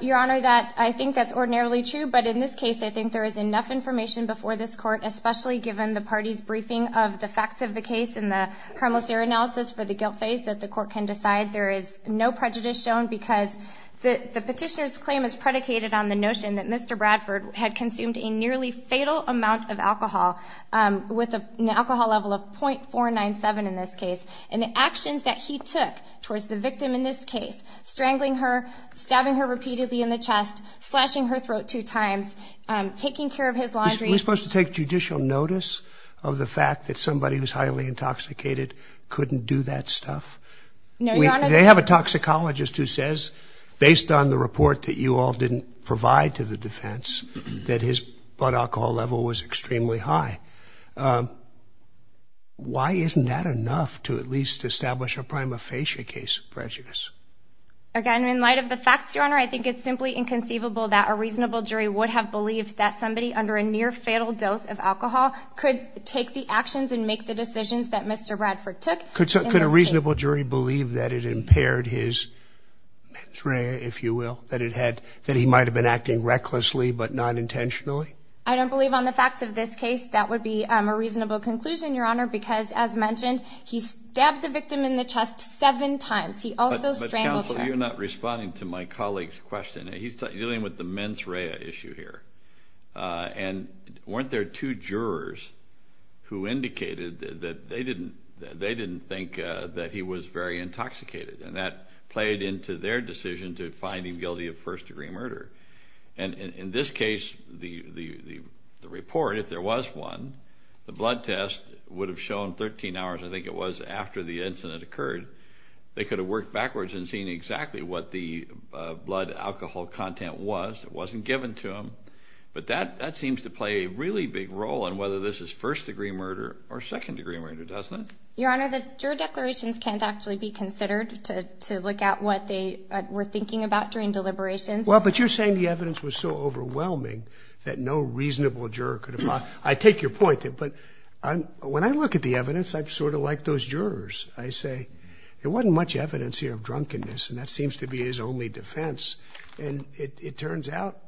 Your Honor, I think that's ordinarily true. But in this case, I think there is enough information before this court, especially given the party's briefing of the facts of the case and the promissory analysis for the guilt phase, that the court can decide there is no prejudice shown because the petitioner's claim is predicated on the notion that Mr. Bradford had consumed a nearly fatal amount of alcohol, with an alcohol level of .497 in this case, and the actions that he took towards the victim in this case, strangling her, stabbing her repeatedly in the chest, slashing her throat two times, taking care of his laundry... Are we supposed to take judicial notice of the fact that somebody who's highly intoxicated couldn't do that stuff? No, Your Honor... They have a toxicologist who says, based on the report that you all didn't provide to the defense, that his blood alcohol level was extremely high. Why isn't that enough to at least establish a prima facie case of prejudice? Again, in light of the facts, Your Honor, I think it's simply inconceivable that a reasonable jury would have believed that somebody under a near-fatal dose of alcohol could take the actions and make the decisions that Mr. Bradford took... Could a reasonable jury believe that it impaired his mens rea, if you will, that he might have been acting recklessly but not intentionally? I don't believe on the facts of this case that would be a reasonable conclusion, Your Honor, because, as mentioned, he stabbed the victim in the chest seven times. He also strangled her. But, counsel, you're not responding to my colleague's question. He's dealing with the mens rea issue here. And weren't there two jurors who indicated that they didn't think that he was very intoxicated, and that played into their decision to find him guilty of first-degree murder? In this case, the report, if there was one, the blood test would have shown 13 hours, I think it was, after the incident occurred. They could have worked backwards in seeing exactly what the blood alcohol content was. It wasn't given to them. But that seems to play a really big role in whether this is first-degree murder or second-degree murder, doesn't it? Your Honor, the juror declarations can't actually be considered to look at what they were thinking about during deliberations. Well, but you're saying the evidence was so overwhelming that no reasonable juror could have... I take your point, but when I look at the evidence, I'm sort of like those jurors. I say, there wasn't much evidence here of drunkenness, and that seems to be his only defense. And it turns out,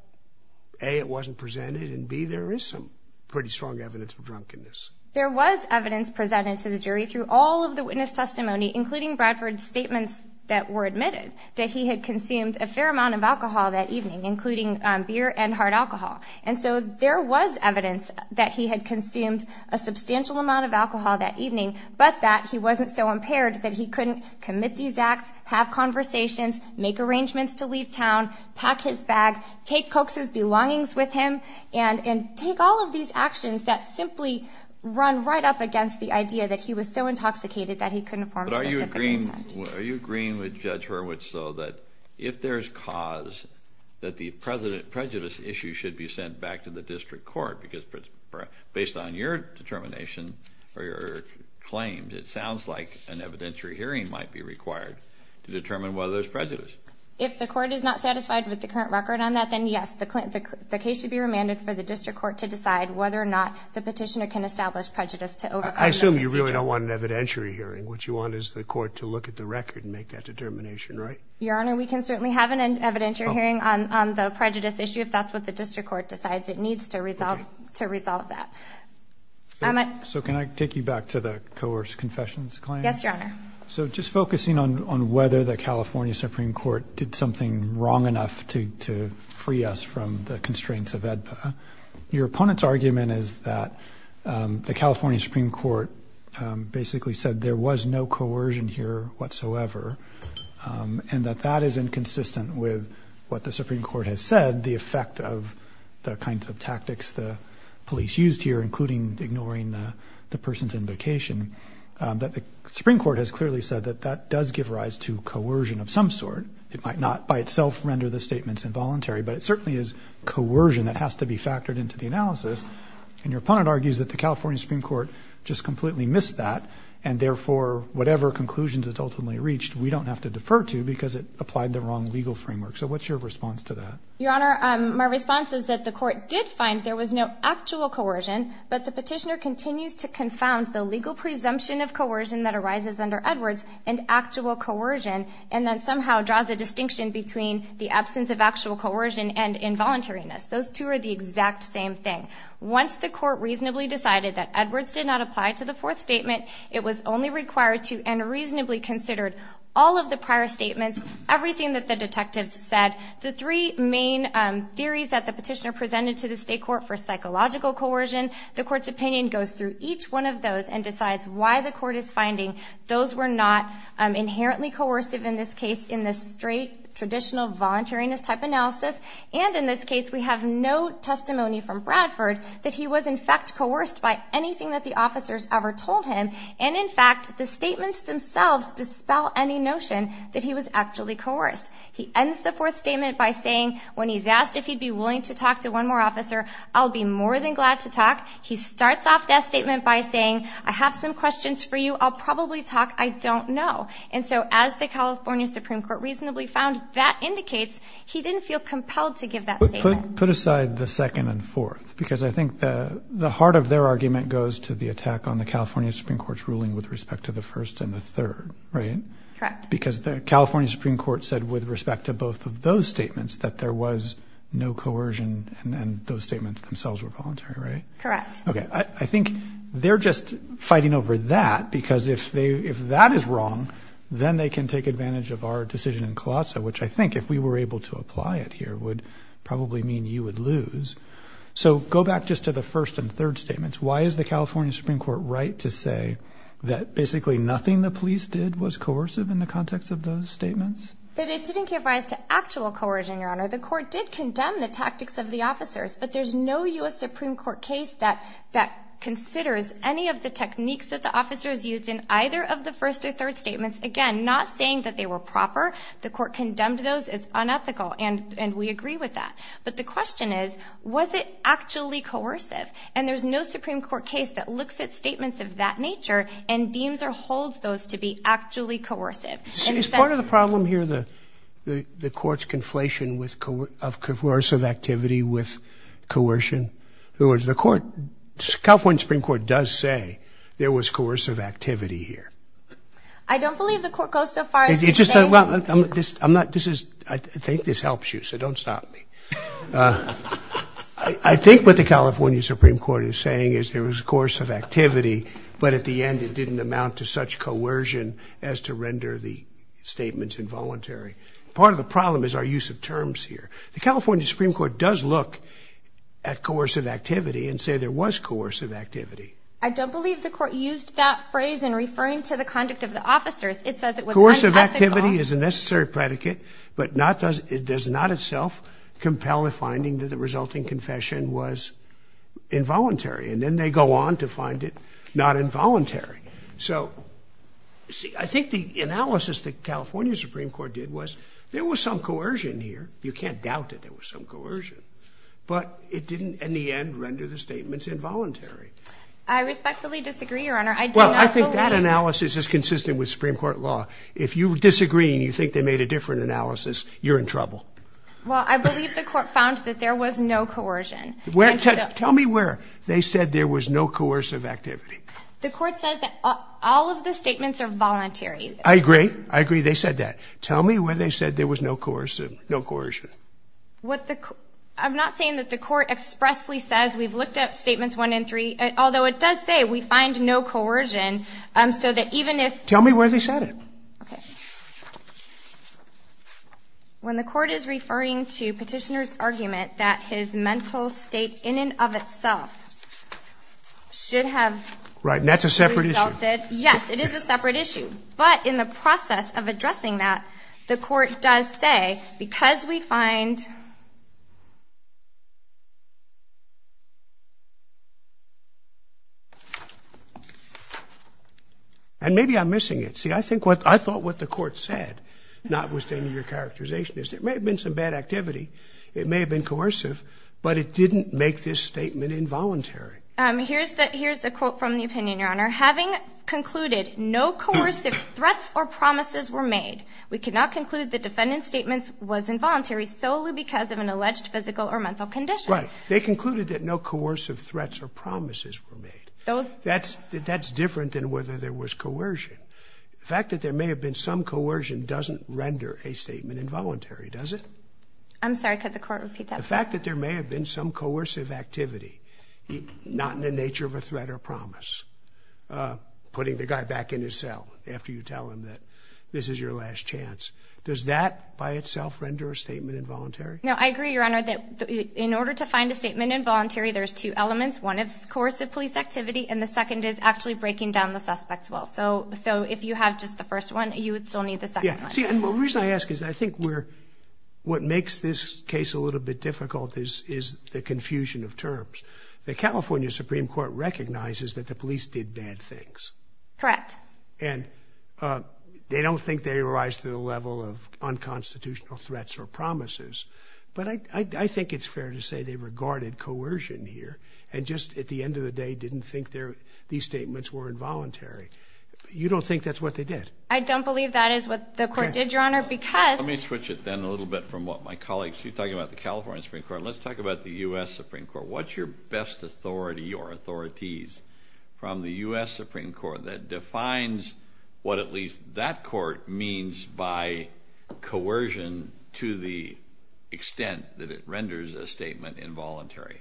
A, it wasn't presented, and B, there is some pretty strong evidence of drunkenness. There was evidence presented to the jury through all of the witness testimony, including Bradford's statements that were admitted, that he had consumed a fair amount of alcohol that evening, including beer and hard alcohol. And so there was evidence that he had consumed a substantial amount of alcohol that evening, but that he wasn't so impaired that he couldn't commit these acts, have conversations, make arrangements to leave town, pack his bag, take Coke's belongings with him, and take all of these actions that simply run right up against the idea that he was so intoxicated that he couldn't form specific intent. But are you agreeing with Judge Hurwitz, though, that if there's cause, that the prejudice issue should be sent back to the district court, because based on your determination or your claims, it sounds like an evidentiary hearing might be required to determine whether there's prejudice. If the court is not satisfied with the current record on that, then yes, the case should be remanded for the district court to decide whether or not the petitioner can establish prejudice. I assume you really don't want an evidentiary hearing. What you want is the court to look at the record and make that determination, right? Your Honor, we can certainly have an evidentiary hearing on the prejudice issue if that's what the district court decides it needs to resolve that. So can I take you back to the coerced confessions claim? Yes, Your Honor. So just focusing on whether the California Supreme Court did something wrong enough to free us from the constraints of AEDPA, your opponent's argument is that the California Supreme Court basically said there was no coercion here whatsoever and that that is inconsistent with what the Supreme Court has said, the effect of the kinds of tactics the police used here, including ignoring the person's invocation, that the Supreme Court has clearly said that that does give rise to coercion of some sort. It might not by itself render the statements involuntary, but it certainly is coercion that has to be factored into the analysis. And your opponent argues that the California Supreme Court just completely missed that and therefore whatever conclusions it ultimately reached, we don't have to defer to because it applied the wrong legal framework. So what's your response to that? Your Honor, my response is that the court did find there was no actual coercion, but the petitioner continues to confound the legal presumption of coercion that arises under Edwards and actual coercion and then somehow draws a distinction between the absence of actual coercion and involuntariness. Those two are the exact same thing. Once the court reasonably decided that Edwards did not apply to the fourth statement, it was only required to and reasonably considered all of the prior statements, everything that the detectives said. The three main theories that the petitioner presented to the state court for psychological coercion, the court's opinion goes through each one of those and decides why the court is finding those were not inherently coercive, in this case in the straight traditional voluntariness type analysis. And in this case, we have no testimony from Bradford that he was in fact coerced by anything that the officers ever told him. And in fact, the statements themselves dispel any notion that he was actually coerced. He ends the fourth statement by saying when he's asked if he'd be willing to talk to one more officer, I'll be more than glad to talk. He starts off that statement by saying, I have some questions for you. I'll probably talk. I don't know. And so as the California Supreme Court reasonably found that indicates he didn't feel compelled to give that statement. But put aside the second and fourth, because I think the heart of their argument goes to the attack on the California Supreme Court's ruling with respect to the first and the third, right? Correct. Because the California Supreme Court said with respect to both of those statements that there was no coercion, and those statements themselves were voluntary, right? Correct. Okay. I think they're just fighting over that because if that is wrong, then they can take advantage of our decision in Colosso, which I think if we were able to apply it here would probably mean you would lose. So go back just to the first and third statements. Why is the California Supreme Court right to say that basically nothing the police did was coercive in the context of those statements? That it didn't give rise to actual coercion, Your Honor. The court did condemn the tactics of the officers, but there's no U.S. Supreme Court case that considers any of the techniques that the officers used in either of the first or third statements. Again, not saying that they were proper. The court condemned those as unethical, and we agree with that. But the question is, was it actually coercive? And there's no Supreme Court case that looks at statements of that nature and deems or holds those to be actually coercive. Is part of the problem here the court's conflation of coercive activity with coercion? In other words, the California Supreme Court does say there was coercive activity here. I don't believe the court goes so far as to say that. I think this helps you, so don't stop me. I think what the California Supreme Court is saying is there was coercive activity, but at the end it didn't amount to such coercion as to render the statements involuntary. Part of the problem is our use of terms here. The California Supreme Court does look at coercive activity and say there was coercive activity. I don't believe the court used that phrase in referring to the conduct of the officers. It says it was unethical. Unethical activity is a necessary predicate, but not does it does not itself compel a finding that the resulting confession was involuntary. And then they go on to find it not involuntary. So I think the analysis the California Supreme Court did was there was some coercion here. You can't doubt it. There was some coercion. But it didn't, in the end, render the statements involuntary. I respectfully disagree, Your Honor. I do not believe it. Well, I think that analysis is consistent with Supreme Court law. If you disagree and you think they made a different analysis, you're in trouble. Well, I believe the court found that there was no coercion. Tell me where they said there was no coercive activity. The court says that all of the statements are voluntary. I agree. I agree they said that. Tell me where they said there was no coercion. I'm not saying that the court expressly says we've looked at statements one and three, although it does say we find no coercion. So that even if Tell me where they said it. Okay. When the court is referring to Petitioner's argument that his mental state in and of itself should have Right. And that's a separate issue. Yes. It is a separate issue. But in the process of addressing that, the court does say, because we find And maybe I'm missing it. See, I think what I thought what the court said, notwithstanding your characterization, is there may have been some bad activity. It may have been coercive, but it didn't make this statement involuntary. Here's the quote from the opinion, Your Honor. Having concluded no coercive threats or promises were made, we cannot conclude the defendant's statement was involuntary solely because of an alleged physical or mental condition. Right. They concluded that no coercive threats or promises were made. That's different than whether there was coercion. The fact that there may have been some coercion doesn't render a statement involuntary, does it? I'm sorry. Could the court repeat that? The fact that there may have been some coercive activity, not in the nature of a threat or promise, putting the guy back in his cell after you tell him that this is your last chance, does that by itself render a statement involuntary? No, I agree, Your Honor, that in order to find a statement involuntary, there's two elements. One is coercive police activity, and the second is actually breaking down the suspect's will. So if you have just the first one, you would still need the second one. See, and the reason I ask is I think what makes this case a little bit difficult is the confusion of terms. The California Supreme Court recognizes that the police did bad things. Correct. And they don't think they rise to the level of unconstitutional threats or promises, but I think it's fair to say they regarded coercion here and just at the end of the day didn't think these statements were involuntary. You don't think that's what they did? I don't believe that is what the court did, Your Honor, because— Let me switch it then a little bit from what my colleagues—you're talking about the California Supreme Court. Let's talk about the U.S. Supreme Court. What's your best authority or authorities from the U.S. Supreme Court that defines what at least that court means by coercion to the extent that it renders a statement involuntary?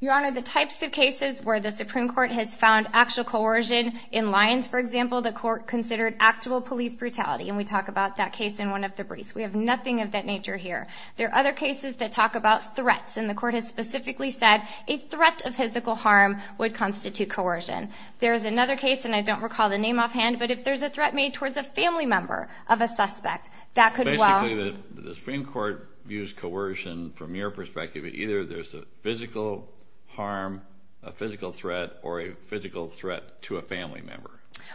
Your Honor, the types of cases where the Supreme Court has found actual coercion, in Lyons, for example, the court considered actual police brutality, and we talk about that case in one of the briefs. We have nothing of that nature here. There are other cases that talk about threats, and the court has specifically said a threat of physical harm would constitute coercion. There is another case, and I don't recall the name offhand, but if there's a threat made towards a family member of a suspect, that could well— Basically, the Supreme Court views coercion from your perspective. Either there's a physical harm, a physical threat, or a physical threat to a family member.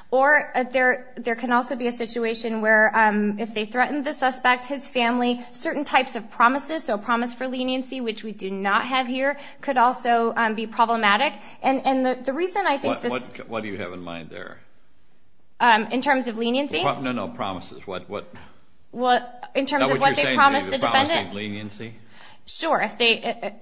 Or there can also be a situation where if they threaten the suspect, his family, certain types of promises, so a promise for leniency, which we do not have here, could also be problematic. And the reason I think that— What do you have in mind there? In terms of leniency? No, no, promises. In terms of what they promise the defendant? Leniency? Sure.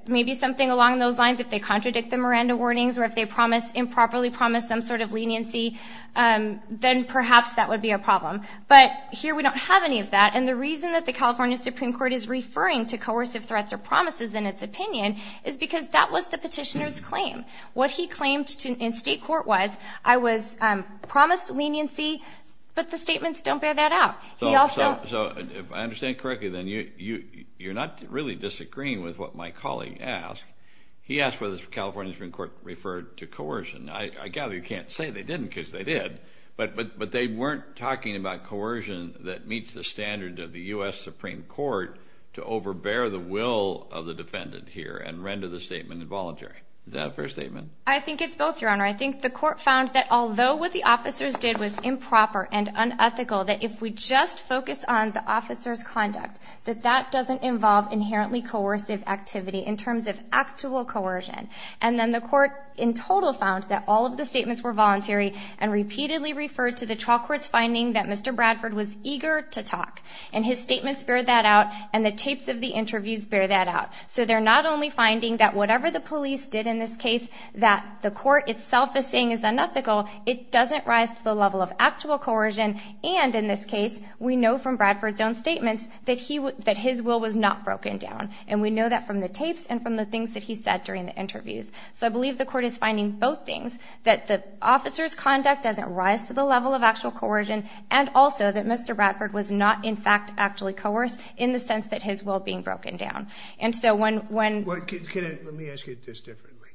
Maybe something along those lines. If they contradict the Miranda warnings or if they improperly promise some sort of leniency, then perhaps that would be a problem. But here we don't have any of that, and the reason that the California Supreme Court is referring to coercive threats or promises in its opinion is because that was the petitioner's claim. What he claimed in state court was, I was promised leniency, but the statements don't bear that out. So if I understand correctly, then you're not really disagreeing with what my colleague asked. He asked whether the California Supreme Court referred to coercion. I gather you can't say they didn't because they did, but they weren't talking about coercion that meets the standard of the U.S. Supreme Court to overbear the will of the defendant here and render the statement involuntary. Is that a fair statement? I think it's both, Your Honor. I think the court found that although what the officers did was improper and unethical, that if we just focus on the officer's conduct, that that doesn't involve inherently coercive activity in terms of actual coercion. And then the court in total found that all of the statements were voluntary and repeatedly referred to the trial court's finding that Mr. Bradford was eager to talk, and his statements bear that out and the tapes of the interviews bear that out. So they're not only finding that whatever the police did in this case that the court itself is saying is unethical, it doesn't rise to the level of actual coercion, and in this case we know from Bradford's own statements that his will was not broken down, and we know that from the tapes and from the things that he said during the interviews. So I believe the court is finding both things, that the officer's conduct doesn't rise to the level of actual coercion and also that Mr. Bradford was not in fact actually coerced in the sense that his will being broken down. Let me ask you this differently.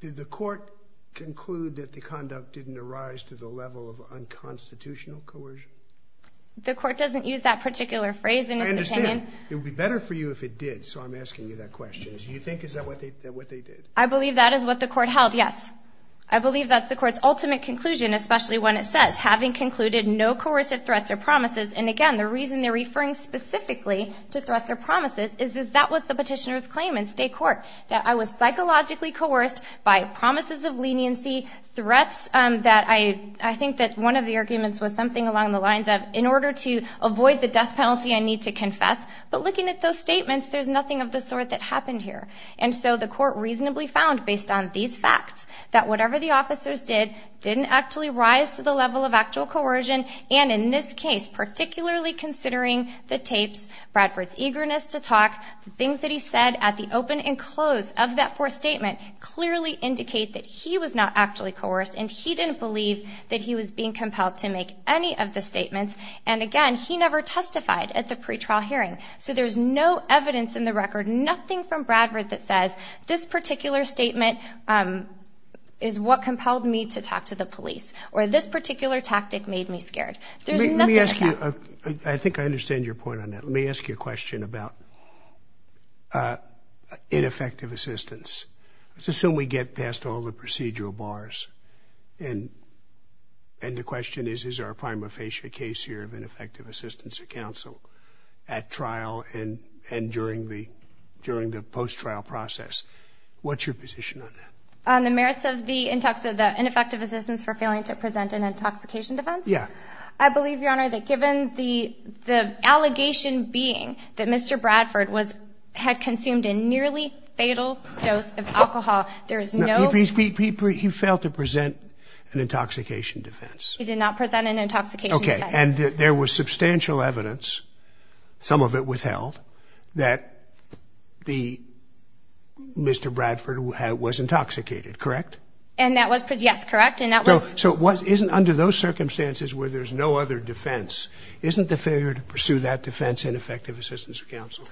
Did the court conclude that the conduct didn't arise to the level of unconstitutional coercion? The court doesn't use that particular phrase in its opinion. I understand. It would be better for you if it did, so I'm asking you that question. Do you think is that what they did? I believe that is what the court held, yes. I believe that's the court's ultimate conclusion, especially when it says, having concluded no coercive threats or promises, and again the reason they're referring specifically to threats or promises is that that was the petitioner's claim in state court, that I was psychologically coerced by promises of leniency, threats that I think that one of the arguments was something along the lines of, in order to avoid the death penalty I need to confess, but looking at those statements, there's nothing of the sort that happened here. And so the court reasonably found, based on these facts, that whatever the officers did didn't actually rise to the level of actual coercion, and in this case, particularly considering the tapes, Bradford's eagerness to talk, the things that he said at the open and close of that first statement clearly indicate that he was not actually coerced, and he didn't believe that he was being compelled to make any of the statements, and again, he never testified at the pretrial hearing, so there's no evidence in the record, nothing from Bradford that says, this particular statement is what compelled me to talk to the police, or this particular tactic made me scared. Let me ask you, I think I understand your point on that. Let me ask you a question about ineffective assistance. Let's assume we get past all the procedural bars, and the question is, is there a prima facie case here of ineffective assistance to counsel at trial and during the post-trial process? What's your position on that? On the merits of the ineffective assistance for failing to present an intoxication defense? Yeah. I believe, Your Honor, that given the allegation being that Mr. Bradford had consumed a nearly fatal dose of alcohol, there is no ---- He failed to present an intoxication defense. He did not present an intoxication defense. Okay, and there was substantial evidence, some of it withheld, that Mr. Bradford was intoxicated, correct? Yes, correct, and that was ---- So isn't under those circumstances where there's no other defense, isn't the failure to pursue that defense ineffective assistance of counsel?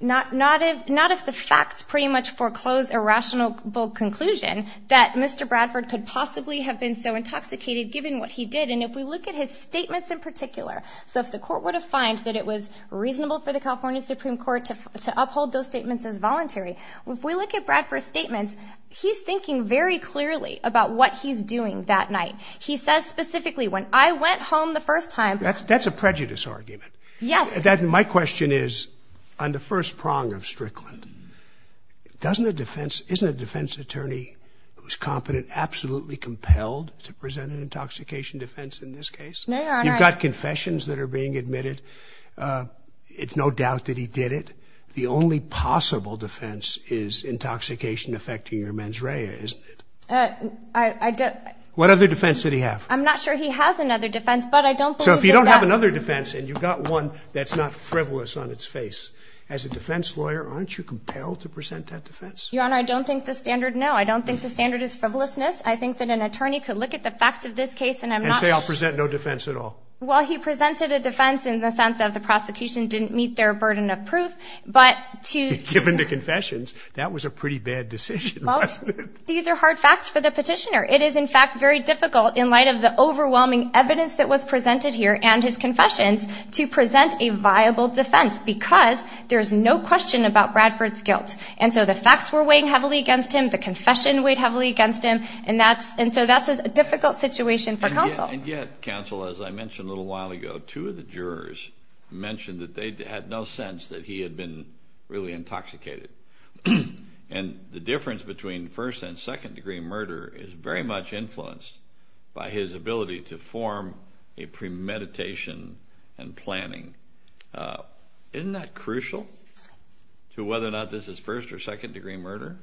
Not if the facts pretty much foreclose a rational conclusion that Mr. Bradford could possibly have been so intoxicated given what he did. And if we look at his statements in particular, so if the Court would have fined that it was reasonable for the California Supreme Court to uphold those statements as voluntary, if we look at Bradford's statements, he's thinking very clearly about what he's doing that night. He says specifically, when I went home the first time ---- That's a prejudice argument. Yes. My question is, on the first prong of Strickland, isn't a defense attorney who's competent absolutely compelled to present an intoxication defense in this case? No, Your Honor. You've got confessions that are being admitted. It's no doubt that he did it. The only possible defense is intoxication affecting your mens rea, isn't it? I don't ---- What other defense did he have? I'm not sure he has another defense, but I don't believe that that ---- So if you don't have another defense and you've got one that's not frivolous on its face, as a defense lawyer, aren't you compelled to present that defense? Your Honor, I don't think the standard, no. I don't think the standard is frivolousness. I think that an attorney could look at the facts of this case and I'm not ---- And say, I'll present no defense at all. Well, he presented a defense in the sense of the prosecution didn't meet their burden of proof but to ---- Given the confessions, that was a pretty bad decision, wasn't it? Well, these are hard facts for the petitioner. It is, in fact, very difficult in light of the overwhelming evidence that was presented here and his confessions to present a viable defense because there's no question about Bradford's guilt. And so the facts were weighing heavily against him. The confession weighed heavily against him. And so that's a difficult situation for counsel. And yet, counsel, as I mentioned a little while ago, two of the jurors mentioned that they had no sense that he had been really intoxicated. And the difference between first- and second-degree murder is very much influenced by his ability to form a premeditation and planning. Isn't that crucial to whether or not this is first- or second-degree murder?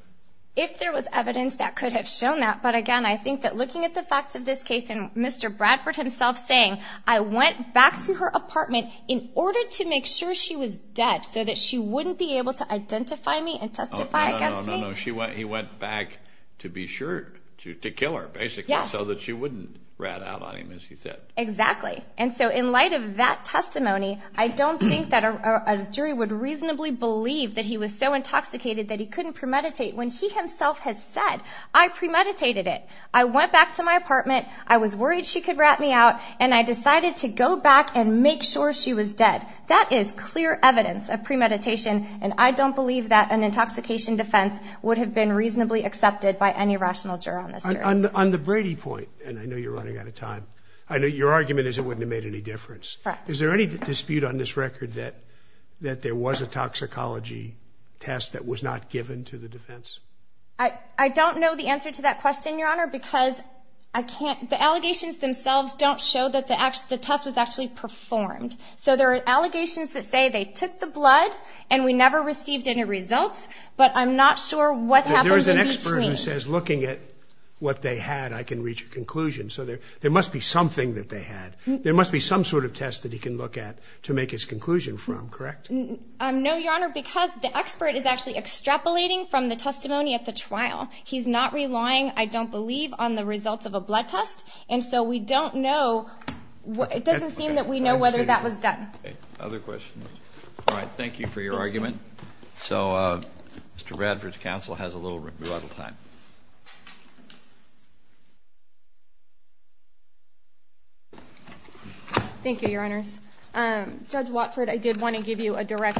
If there was evidence that could have shown that, but again, I think that looking at the facts of this case and Mr. Bradford himself saying, I went back to her apartment in order to make sure she was dead so that she wouldn't be able to identify me and testify against me. Oh, no, no, no, no, no. He went back to be sure, to kill her, basically, so that she wouldn't rat out on him as he said. Exactly. And so in light of that testimony, I don't think that a jury would reasonably believe that he was so intoxicated that he couldn't premeditate when he himself has said, I premeditated it. I went back to my apartment. I was worried she could rat me out, and I decided to go back and make sure she was dead. That is clear evidence of premeditation, and I don't believe that an intoxication defense would have been reasonably accepted by any rational juror on this jury. On the Brady point, and I know you're running out of time, I know your argument is it wouldn't have made any difference. Correct. Is there any dispute on this record that there was a toxicology test that was not given to the defense? I don't know the answer to that question, Your Honor, because the allegations themselves don't show that the test was actually performed. So there are allegations that say they took the blood and we never received any results, but I'm not sure what happened in between. There is an expert who says looking at what they had, I can reach a conclusion. So there must be something that they had. There must be some sort of test that he can look at to make his conclusion from, correct? No, Your Honor, because the expert is actually extrapolating from the testimony at the trial. He's not relying, I don't believe, on the results of a blood test. And so we don't know. It doesn't seem that we know whether that was done. Other questions? All right. Thank you for your argument. So Mr. Bradford's counsel has a little revital time. Thank you, Your Honors. Judge Watford, I did want to give you a direct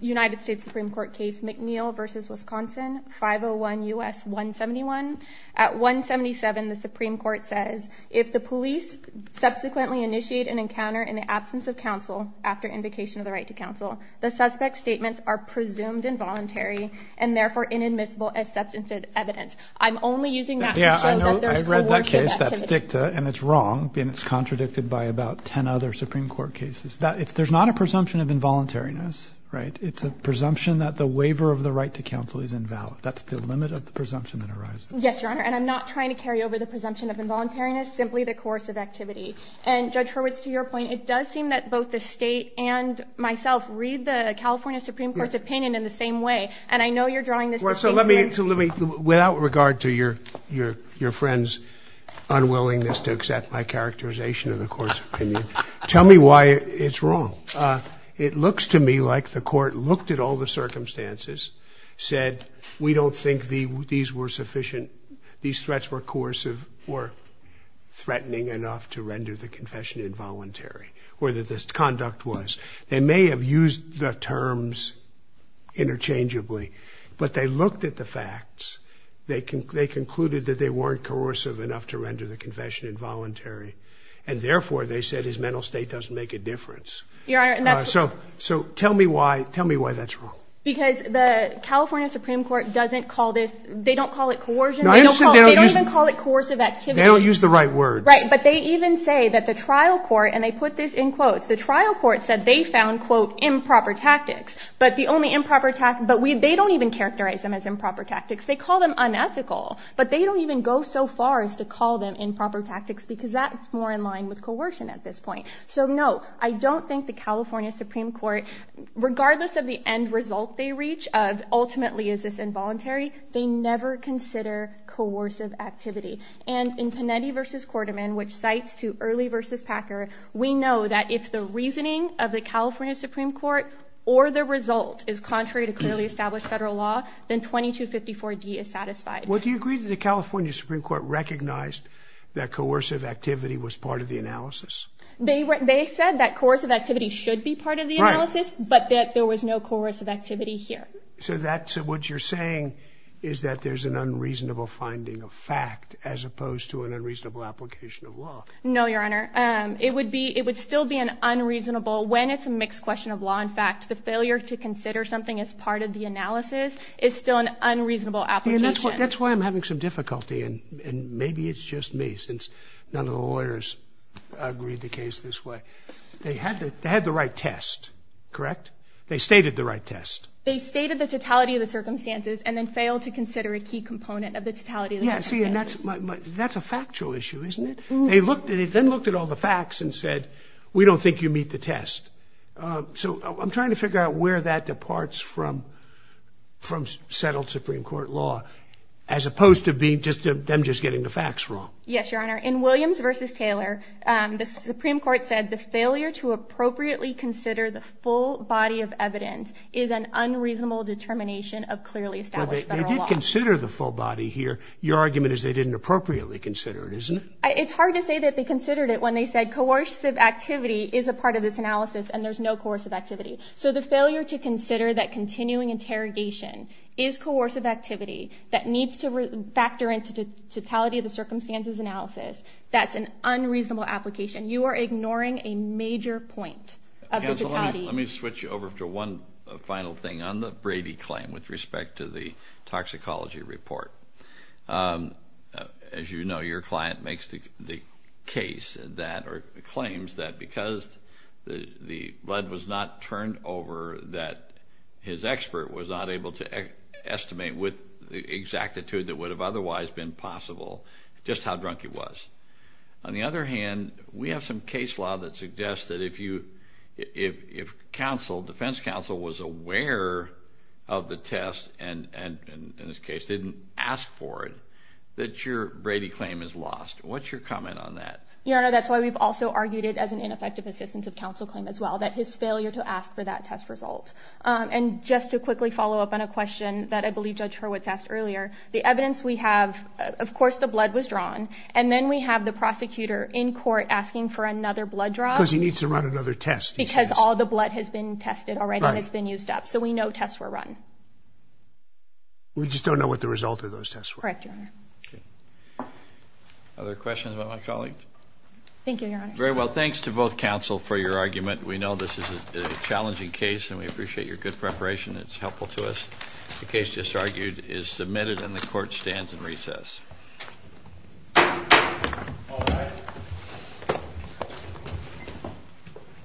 United States Supreme Court case, McNeil v. Wisconsin, 501 U.S. 171. At 177, the Supreme Court says, if the police subsequently initiate an encounter in the absence of counsel after invocation of the right to counsel, the suspect's statements are presumed involuntary and therefore inadmissible as substantive evidence. I'm only using that to show that there's coercive activity. And it's wrong, and it's contradicted by about 10 other Supreme Court cases. There's not a presumption of involuntariness, right? It's a presumption that the waiver of the right to counsel is invalid. That's the limit of the presumption that arises. Yes, Your Honor, and I'm not trying to carry over the presumption of involuntariness, simply the coercive activity. And, Judge Hurwitz, to your point, it does seem that both the State and myself read the California Supreme Court's opinion in the same way. And I know you're drawing this the same way. So let me, without regard to your friend's unwillingness to accept my characterization of the Court's opinion, tell me why it's wrong. It looks to me like the Court looked at all the circumstances, said we don't think these were sufficient, these threats were coercive or threatening enough to render the confession involuntary, or that this conduct was. They may have used the terms interchangeably. But they looked at the facts. They concluded that they weren't coercive enough to render the confession involuntary. And, therefore, they said his mental state doesn't make a difference. Your Honor, that's wrong. So tell me why that's wrong. Because the California Supreme Court doesn't call this, they don't call it coercion. They don't even call it coercive activity. They don't use the right words. Right, but they even say that the trial court, and they put this in quotes, the trial court said they found, quote, improper tactics. But the only improper tactics, but they don't even characterize them as improper tactics. They call them unethical. But they don't even go so far as to call them improper tactics because that's more in line with coercion at this point. So, no, I don't think the California Supreme Court, regardless of the end result they reach of ultimately is this involuntary, they never consider coercive activity. And in Panetti v. Quarterman, which cites to Early v. Packer, we know that if the reasoning of the California Supreme Court or the result is contrary to clearly established federal law, then 2254D is satisfied. Well, do you agree that the California Supreme Court recognized that coercive activity was part of the analysis? They said that coercive activity should be part of the analysis, but that there was no coercive activity here. So what you're saying is that there's an unreasonable finding of fact as opposed to an unreasonable application of law. No, Your Honor. It would still be an unreasonable, when it's a mixed question of law and fact, the failure to consider something as part of the analysis is still an unreasonable application. That's why I'm having some difficulty, and maybe it's just me, since none of the lawyers agreed the case this way. They had the right test, correct? They stated the right test. They stated the totality of the circumstances and then failed to consider a key component of the totality of the circumstances. Yeah, see, that's a factual issue, isn't it? They then looked at all the facts and said, we don't think you meet the test. So I'm trying to figure out where that departs from settled Supreme Court law as opposed to them just getting the facts wrong. Yes, Your Honor. In Williams v. Taylor, the Supreme Court said, the failure to appropriately consider the full body of evidence is an unreasonable determination of clearly established federal law. They did consider the full body here. Your argument is they didn't appropriately consider it, isn't it? It's hard to say that they considered it when they said coercive activity is a part of this analysis and there's no coercive activity. So the failure to consider that continuing interrogation is coercive activity that needs to factor into totality of the circumstances analysis, that's an unreasonable application. You are ignoring a major point of the totality. Let me switch over to one final thing on the Brady claim with respect to the toxicology report. As you know, your client makes the case that or claims that because the lead was not turned over, that his expert was not able to estimate with the exactitude that would have otherwise been possible just how drunk he was. On the other hand, we have some case law that suggests that if defense counsel was aware of the test and in this case didn't ask for it, that your Brady claim is lost. What's your comment on that? Your Honor, that's why we've also argued it as an ineffective assistance of counsel claim as well, that his failure to ask for that test result. And just to quickly follow up on a question that I believe Judge Hurwitz asked earlier, the evidence we have, of course, the blood was drawn and then we have the prosecutor in court asking for another blood drop. Because he needs to run another test, he says. Because all the blood has been tested already and it's been used up. So we know tests were run. We just don't know what the result of those tests were. Correct, Your Honor. Other questions about my colleague? Thank you, Your Honor. Very well, thanks to both counsel for your argument. We know this is a challenging case and we appreciate your good preparation. It's helpful to us. The case just argued is submitted and the court stands in recess. All rise.